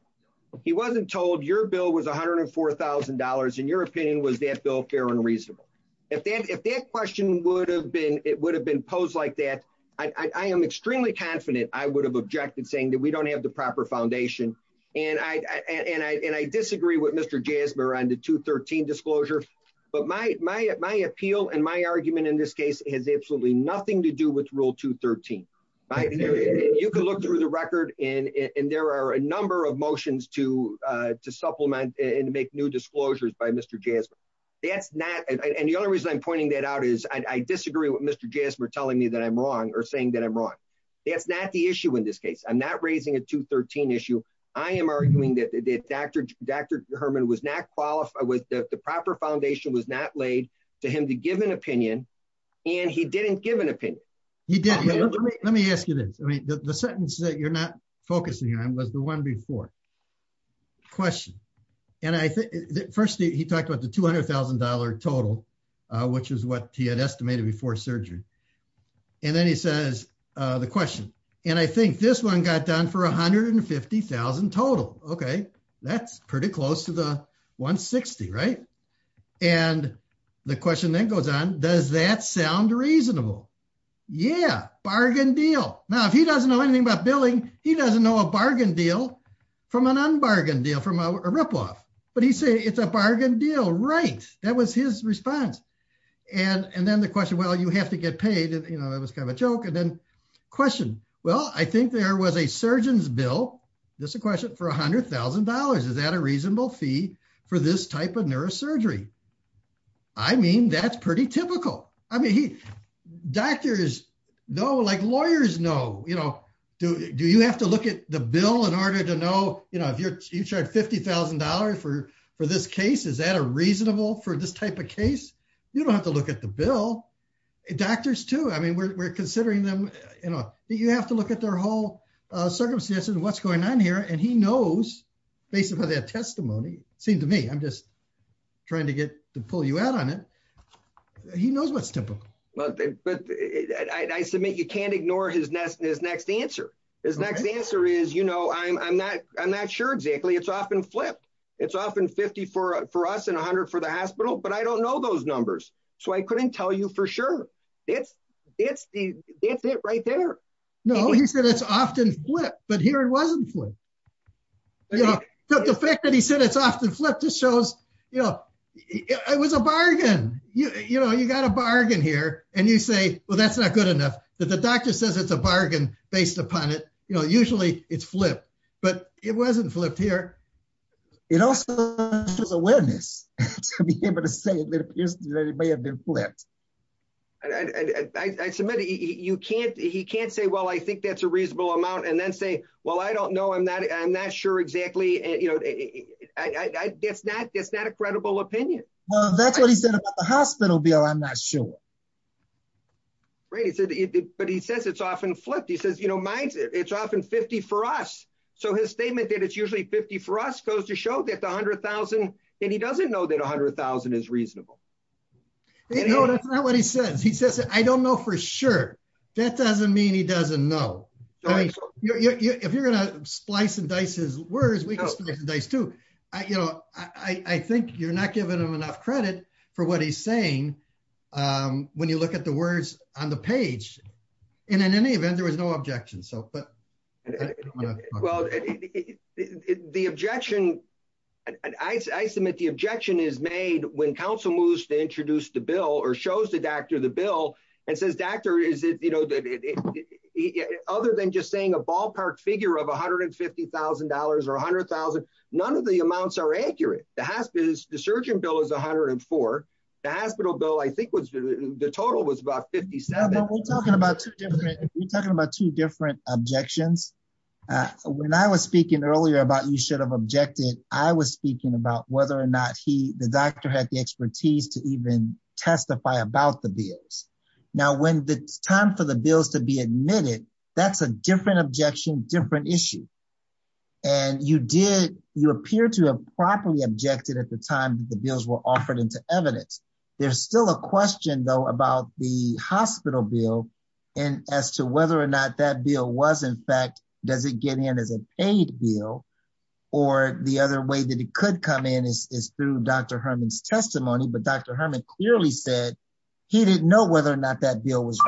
He wasn't told your bill was $104,000, and your opinion was that bill fair and reasonable. If that question would have been, it would have been posed like that, I am extremely confident I would have objected saying that we don't have the proper foundation. And I disagree with Mr. Jasmer on the 213 disclosure, but my appeal and my argument in this case has absolutely nothing to do with Rule 213. You can look through the record, and there are a number of motions to supplement and make new disclosures by Mr. Jasmer. That's not, and the other reason I'm pointing that out is I disagree with Mr. Jasmer telling me that I'm wrong or saying that I'm wrong. That's not the issue in this case. I'm not raising a 213 issue. I am arguing that Dr. Herman was not qualified, the proper foundation was not laid for him to give an opinion, and he didn't give an opinion. He didn't. Let me ask you this. I mean, the sentence that you're not focusing on was the one before. Question. And I think, first he talked about the $200,000 total, which is what he had estimated before surgery. And then he says the question. And I think this one got done for $150,000 total. Okay. That's pretty close to the $160,000, right? And the question then goes on, does that sound reasonable? Yeah. Bargain deal. Now, if he doesn't know anything about billing, he doesn't know a bargain deal from an unbargain deal, from a rip-off. But he says it's a bargain deal. Right. That was his response. And then the question, well, you have to get paid. You know, it was kind of a joke. And then question. Well, I think there was a surgeon's bill. This is a question for $100,000. Is that a reasonable fee for this type of neurosurgery? I mean, that's pretty typical. I mean, doctors know, like lawyers know, you know, do you have to look at the bill in order to know, you know, if you charge $50,000 for this case, is that a reasonable for this type of case? You don't have to look at the bill. Doctors too. We're considering them. You have to look at their whole circumstances, what's going on here. And he knows, based upon their testimony, it seems to me, I'm just trying to pull you out on it. He knows what's typical. Well, I submit you can't ignore his next answer. His next answer is, you know, I'm not sure exactly. It's often flipped. It's often 50 for us and 100 for the hospital. But I don't know those numbers. So I couldn't tell you for sure. It's right there. No, he said it's often flipped. But here it wasn't flipped. So the fact that he said it's often flipped just shows, you know, it was a bargain. You know, you got a bargain here and you say, well, that's not good enough. But the doctor says it's a bargain based upon it. You know, usually it's flipped. But it wasn't flipped here. It also shows awareness to be able to say that it may have been flipped. I submit you can't. He can't say, well, I think that's a reasonable amount and then say, well, I don't know. I'm not. I'm not sure exactly. You know, it's not a credible opinion. Well, that's what he said about the hospital bill. I'm not sure. Right. But he says it's often flipped. He says, you know, it's often 50 for us. So his statement that it's usually 50 for us goes to show that the $100,000, and he doesn't know that $100,000 is reasonable. You know, that's not what he said. He says, I don't know for sure. That doesn't mean he doesn't know. If you're going to splice and dice his words, we can splice and dice too. You know, I think you're not giving him enough credit for what he's saying when you look at the words on the page. And in any event, there was no objection. So, well, the objection, I submit the objection is made when council moves to introduce the bill or shows the doctor the bill and says, doctor, is it, you know, other than just saying a ballpark figure of $150,000 or $100,000, none of the amounts are accurate. The surgeon bill is 104. The hospital bill, I think the total was about 57. We're talking about two different objections. When I was speaking earlier about you should have objected, I was speaking about whether or not he, the doctor had the expertise to even testify about the bills. Now, when the time for the bills to be admitted, that's a different objection, different issue. And you did, you appear to have properly objected at the time that the bills were offered into evidence. There's still a question, though, about the hospital bill and as to whether or not that bill was, in fact, does it get in as a paid bill or the other way that it could come in is through Dr. Herman's testimony. But Dr. Herman clearly said he didn't know whether or not that deal was.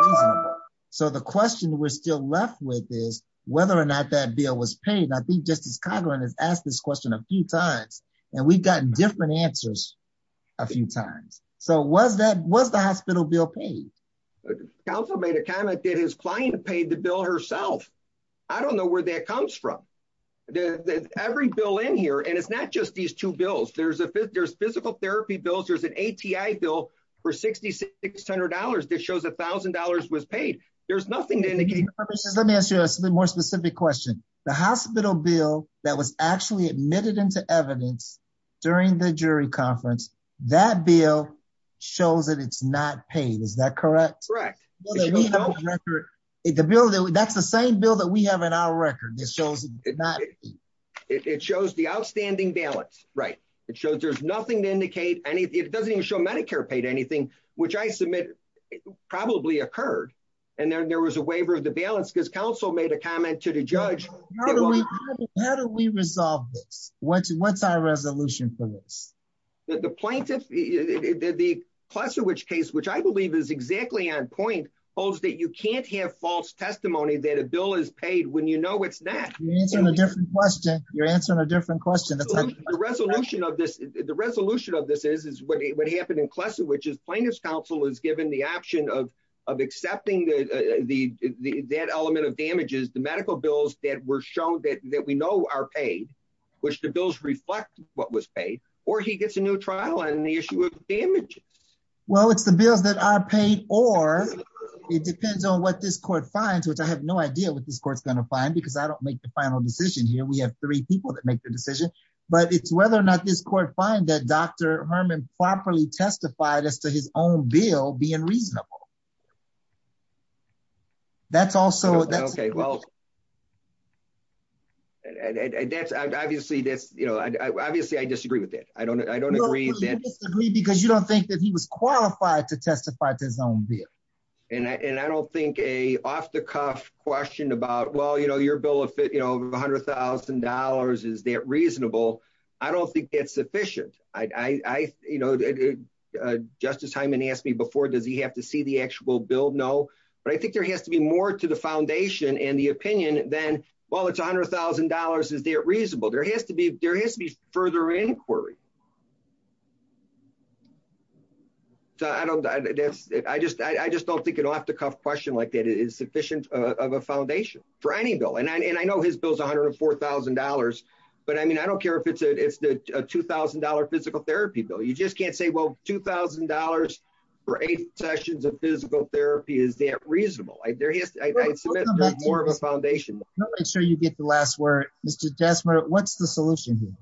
So the question we're still left with is whether or not that deal was paid. I think Justice Conlon has asked this question a few times and we've gotten different answers a few times. So what the hospital bill paid? Counsel made a comment that his client paid the bill herself. I don't know where that comes from. Every bill in here, and it's not just these two bills. There's physical therapy bills. There's an ATI bill for $6,600 that shows $1,000 was paid. There's nothing to indicate. Let me ask you a more specific question. The hospital bill that was actually admitted into evidence during the jury conference, that bill shows that it's not paid. Is that correct? Correct. That's the same bill that we have in our record. It shows it did not. It shows the outstanding balance. Right. It shows there's nothing to indicate. And it doesn't even show Medicare paid anything, which I submit probably occurred. And then there was a waiver of the balance because counsel made a comment to the judge How do we resolve this? What's our resolution for this? The plaintiff, the Klesiewicz case, which I believe is exactly on point, holds that you can't have false testimony that a bill is paid when you know it's not. You're answering a different question. You're answering a different question. The resolution of this is what happened in Klesiewicz is plaintiff's counsel is given the option of accepting that element of damages, the medical bills that were shown that we know are paid, which the bills reflect what was paid, or he gets a new trial on the issue of damages. Well, it's the bill that I paid or it depends on what this court finds, which I have no idea what this court's going to find, because I don't make the final decision here. We have three people that make the decision. But it's whether or not this court find that Dr. Herman properly testified as to his own bill being reasonable. That's also okay. Well, obviously, I disagree with it. I don't agree because you don't think that he was qualified to testify to his own bill. And I don't think an off-the-cuff question about, well, you know, your bill of $100,000, is that reasonable? I don't think it's sufficient. I, you know, Justice Hyman asked me before, does he have to see the actual bill? No. But I think there has to be more to the foundation and the opinion than, well, it's $100,000, is it reasonable? There has to be further inquiry. So I don't, I just don't think an off-the-cuff question like that is sufficient of a foundation for any bill. And I know his bill is $104,000. But I mean, I don't care if it's a $2,000 physical therapy bill. You just can't say, well, $2,000 for eight sessions of physical therapy, is that reasonable? More of a foundation. Let me make sure you get the last word. Mr. Desmar, what's the solution here?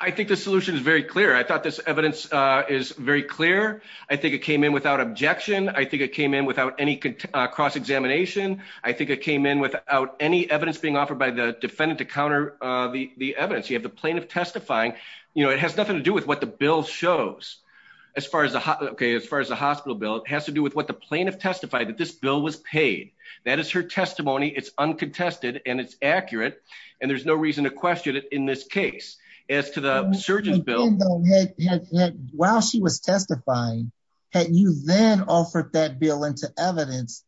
I think the solution is very clear. I thought this evidence is very clear. I think it came in without objection. I think it came in without any cross-examination. I think it came in without any evidence being offered by the defendant to counter the evidence. You have the plaintiff testifying. You know, it has nothing to do with what the bill shows as far as the hospital bill. It has to do with what the plaintiff testified that this bill was paid. That is her testimony. It's uncontested and it's accurate. And there's no reason to question it in this case. As to the surgeon bill. While she was testifying, had you then offered that bill into evidence,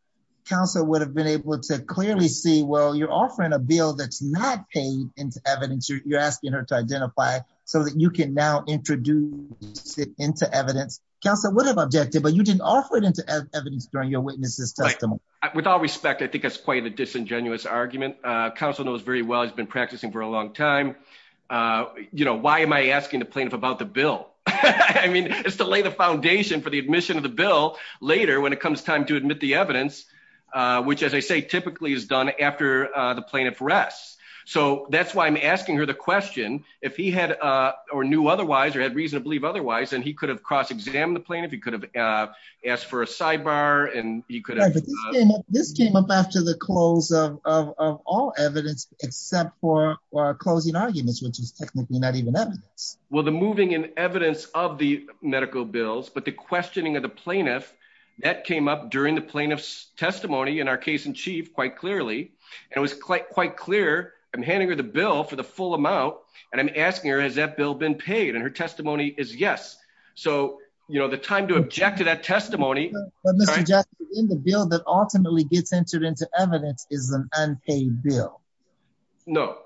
counsel would have been able to clearly see, well, you're offering a bill that's not paid into evidence. You're asking her to identify so that you can now introduce it into evidence. Counsel would have objected, but you didn't offer it into evidence during your witness's testimony. With all respect, I think that's quite a disingenuous argument. Counsel knows very well, has been practicing for a long time. You know, why am I asking the plaintiff about the bill? Later when it comes time to admit the evidence, which as I say, typically is done after the plaintiff rests. So that's why I'm asking her the question. If he had, or knew otherwise, or had reason to believe otherwise, then he could have cross-examined the plaintiff. He could have asked for a sidebar and he could have. This came up after the close of all evidence except for closing arguments, which is technically not even evidence. Well, the moving in evidence of the medical bills, but the questioning of the plaintiff, that came up during the plaintiff's testimony in our case in chief quite clearly. And it was quite clear. I'm handing her the bill for the full amount, and I'm asking her, has that bill been paid? And her testimony is yes. So, you know, the time to object to that testimony. In the bill that ultimately gets entered into evidence is an unpaid bill. No,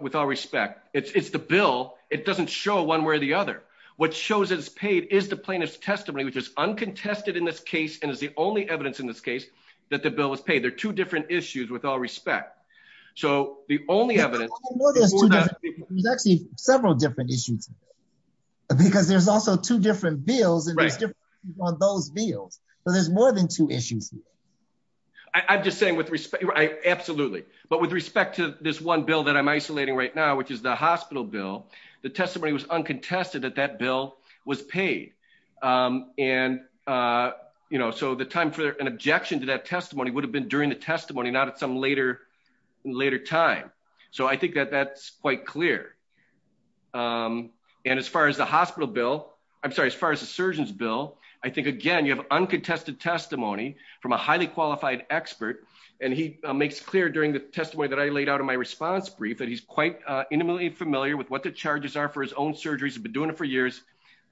with all respect, it's the bill. It doesn't show one way or the other. What shows it's paid is the plaintiff's testimony, which is uncontested in this case, and is the only evidence in this case that the bill was paid. They're two different issues with all respect. So the only evidence- Well, there's actually several different issues. Because there's also two different bills, and there's differences on those bills. So there's more than two issues here. I'm just saying with respect, absolutely. But with respect to this one bill that I'm isolating right now, which is the hospital bill, the testimony was uncontested that that bill was paid. And, you know, so the time for an objection to that testimony would have been during the testimony, not at some later time. So I think that that's quite clear. And as far as the hospital bill, I'm sorry, as far as the surgeon's bill, I think, again, you have uncontested testimony from a highly qualified expert. And he makes clear during the testimony that I laid out in my response brief that he's quite intimately familiar with what the charges are for his own surgeries. He's been doing it for years.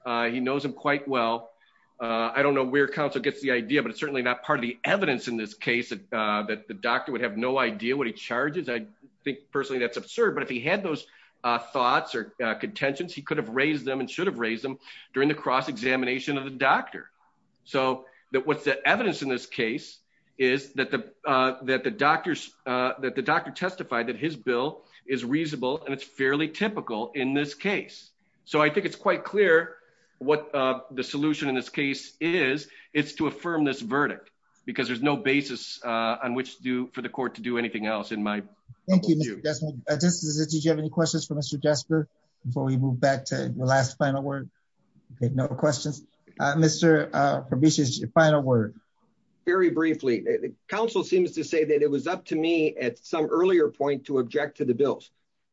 He knows him quite well. I don't know where counsel gets the idea, but it's certainly not part of the evidence in this case that the doctor would have no idea what he charges. I think, personally, that's absurd. But if he had those thoughts or contentions, he could have raised them and should have raised them during the cross-examination of the doctor. So what's the evidence in this case is that the doctor testified that his bill is reasonable, and it's fairly typical in this case. So I think it's quite clear what the solution in this case is. It's to affirm this verdict, because there's no basis on which for the court to do anything else in my view. Thank you, Mr. Jesper. Mr. DeGioia, do you have any questions for Mr. Jesper before we move back to the last final word? Okay, no questions. Mr. Fabricio, your final word. Very briefly, counsel seems to say that it was up to me at some earlier point to object to the bills.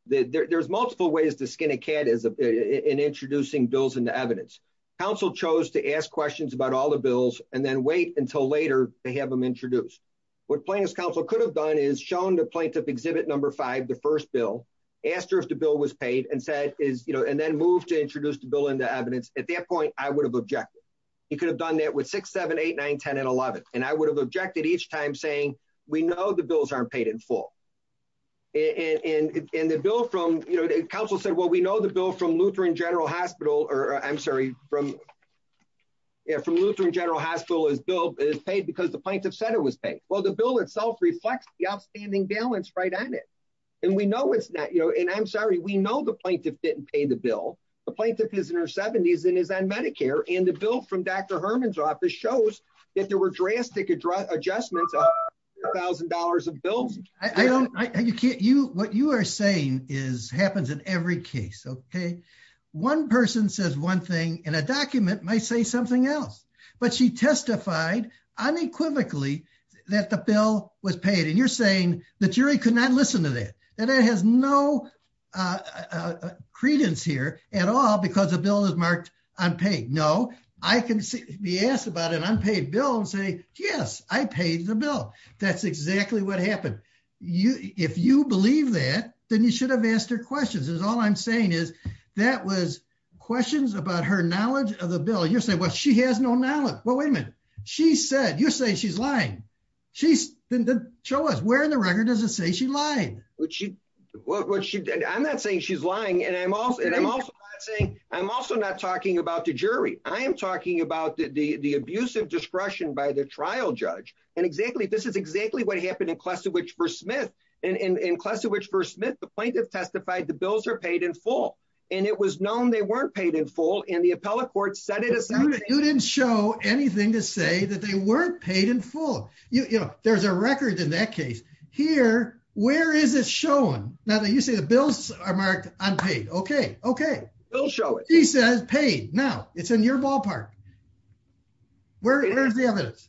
There's multiple ways to skin a cat in introducing bills into evidence. Counsel chose to ask questions about all the bills and then wait until later to have them introduced. What Plaintiff's counsel could have done is shown the plaintiff exhibit number five, the first bill, asked her if the bill was paid, and then moved to introduce the bill into evidence. At that point, I would have objected. He could have done that with 6, 7, 8, 9, 10, and 11. And I would have objected each time saying, we know the bills aren't paid in full. Counsel said, well, we know the bill from Lutheran General Hospital is paid because the plaintiff said it was paid. Well, the bill itself reflects the outstanding balance right at it. And we know it's not. And I'm sorry, we know the plaintiff didn't pay the bill. The plaintiff is in her 70s and is on Medicare. And the bill from Dr. Herman's office shows that there were drastic adjustments of $1,000 of bills. I don't, I can't, you, what you are saying is, happens in every case, okay? One person says one thing and a document might say something else. But she testified unequivocally that the bill was paid. And you're saying the jury could not listen to that. And it has no credence here at all because the bill is marked unpaid. No, I can be asked about an unpaid bill and say, yes, I paid the bill. That's exactly what happened. If you believe that, then you should have asked her questions. Because all I'm saying is that was questions about her knowledge of the bill. You're saying, well, she has no knowledge. Well, wait a minute. She said, you're saying she's lying. Show us where in the record does it say she lied? I'm not saying she's lying. And I'm also not saying, I'm also not talking about the jury. I am talking about the abusive discretion by the trial judge. And exactly, this is exactly what happened in Klesiewicz v. Smith. And in Klesiewicz v. Smith, the plaintiff testified the bills are paid in full. And it was known they weren't paid in full. And the appellate court said it as- You didn't show anything to say that they weren't paid in full. There's a record in that case. Here, where is it shown? Now, you say the bills are marked unpaid. OK, OK. They'll show it. He says paid. Now, it's in your ballpark. Where is the evidence?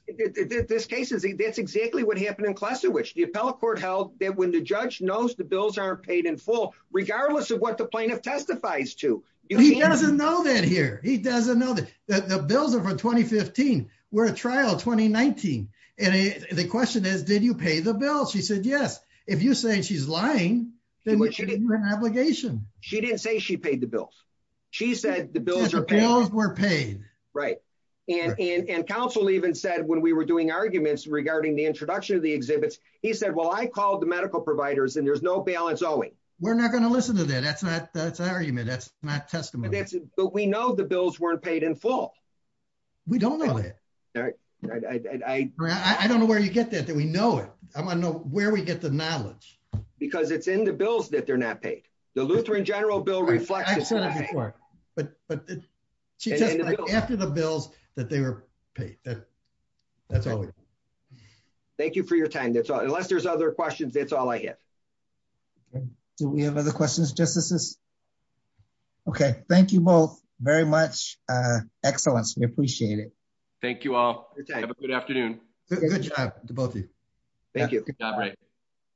This case is, that's exactly what happened in Klesiewicz. The appellate court held that when the judge knows the bills aren't paid in full, regardless of what the plaintiff testifies to. He doesn't know that here. He doesn't know that. The bills are from 2015. We're at trial 2019. And the question is, did you pay the bill? She said, yes. If you say she's lying, then you're in obligation. She didn't say she paid the bills. She said the bills are paid. Yes, the bills were paid. Right. And counsel even said, when we were doing arguments regarding the introduction of the exhibits, he said, well, I called the medical providers and there's no balance owing. We're not going to listen to that. That's an argument. That's not testimony. But we know the bills weren't paid in full. We don't know that. I don't know where you get that, that we know it. I want to know where we get the knowledge. Because it's in the bills that they're not paid. The Lutheran General Bill reflects that. I've said it before. But she said it's after the bills that they were paid. That's all. Thank you for your time. Unless there's other questions, that's all I get. Do we have other questions, Justices? Okay. Thank you both very much. Excellent. We appreciate it. Thank you all. Have a good afternoon. Good job to both of you. Thank you. Good job.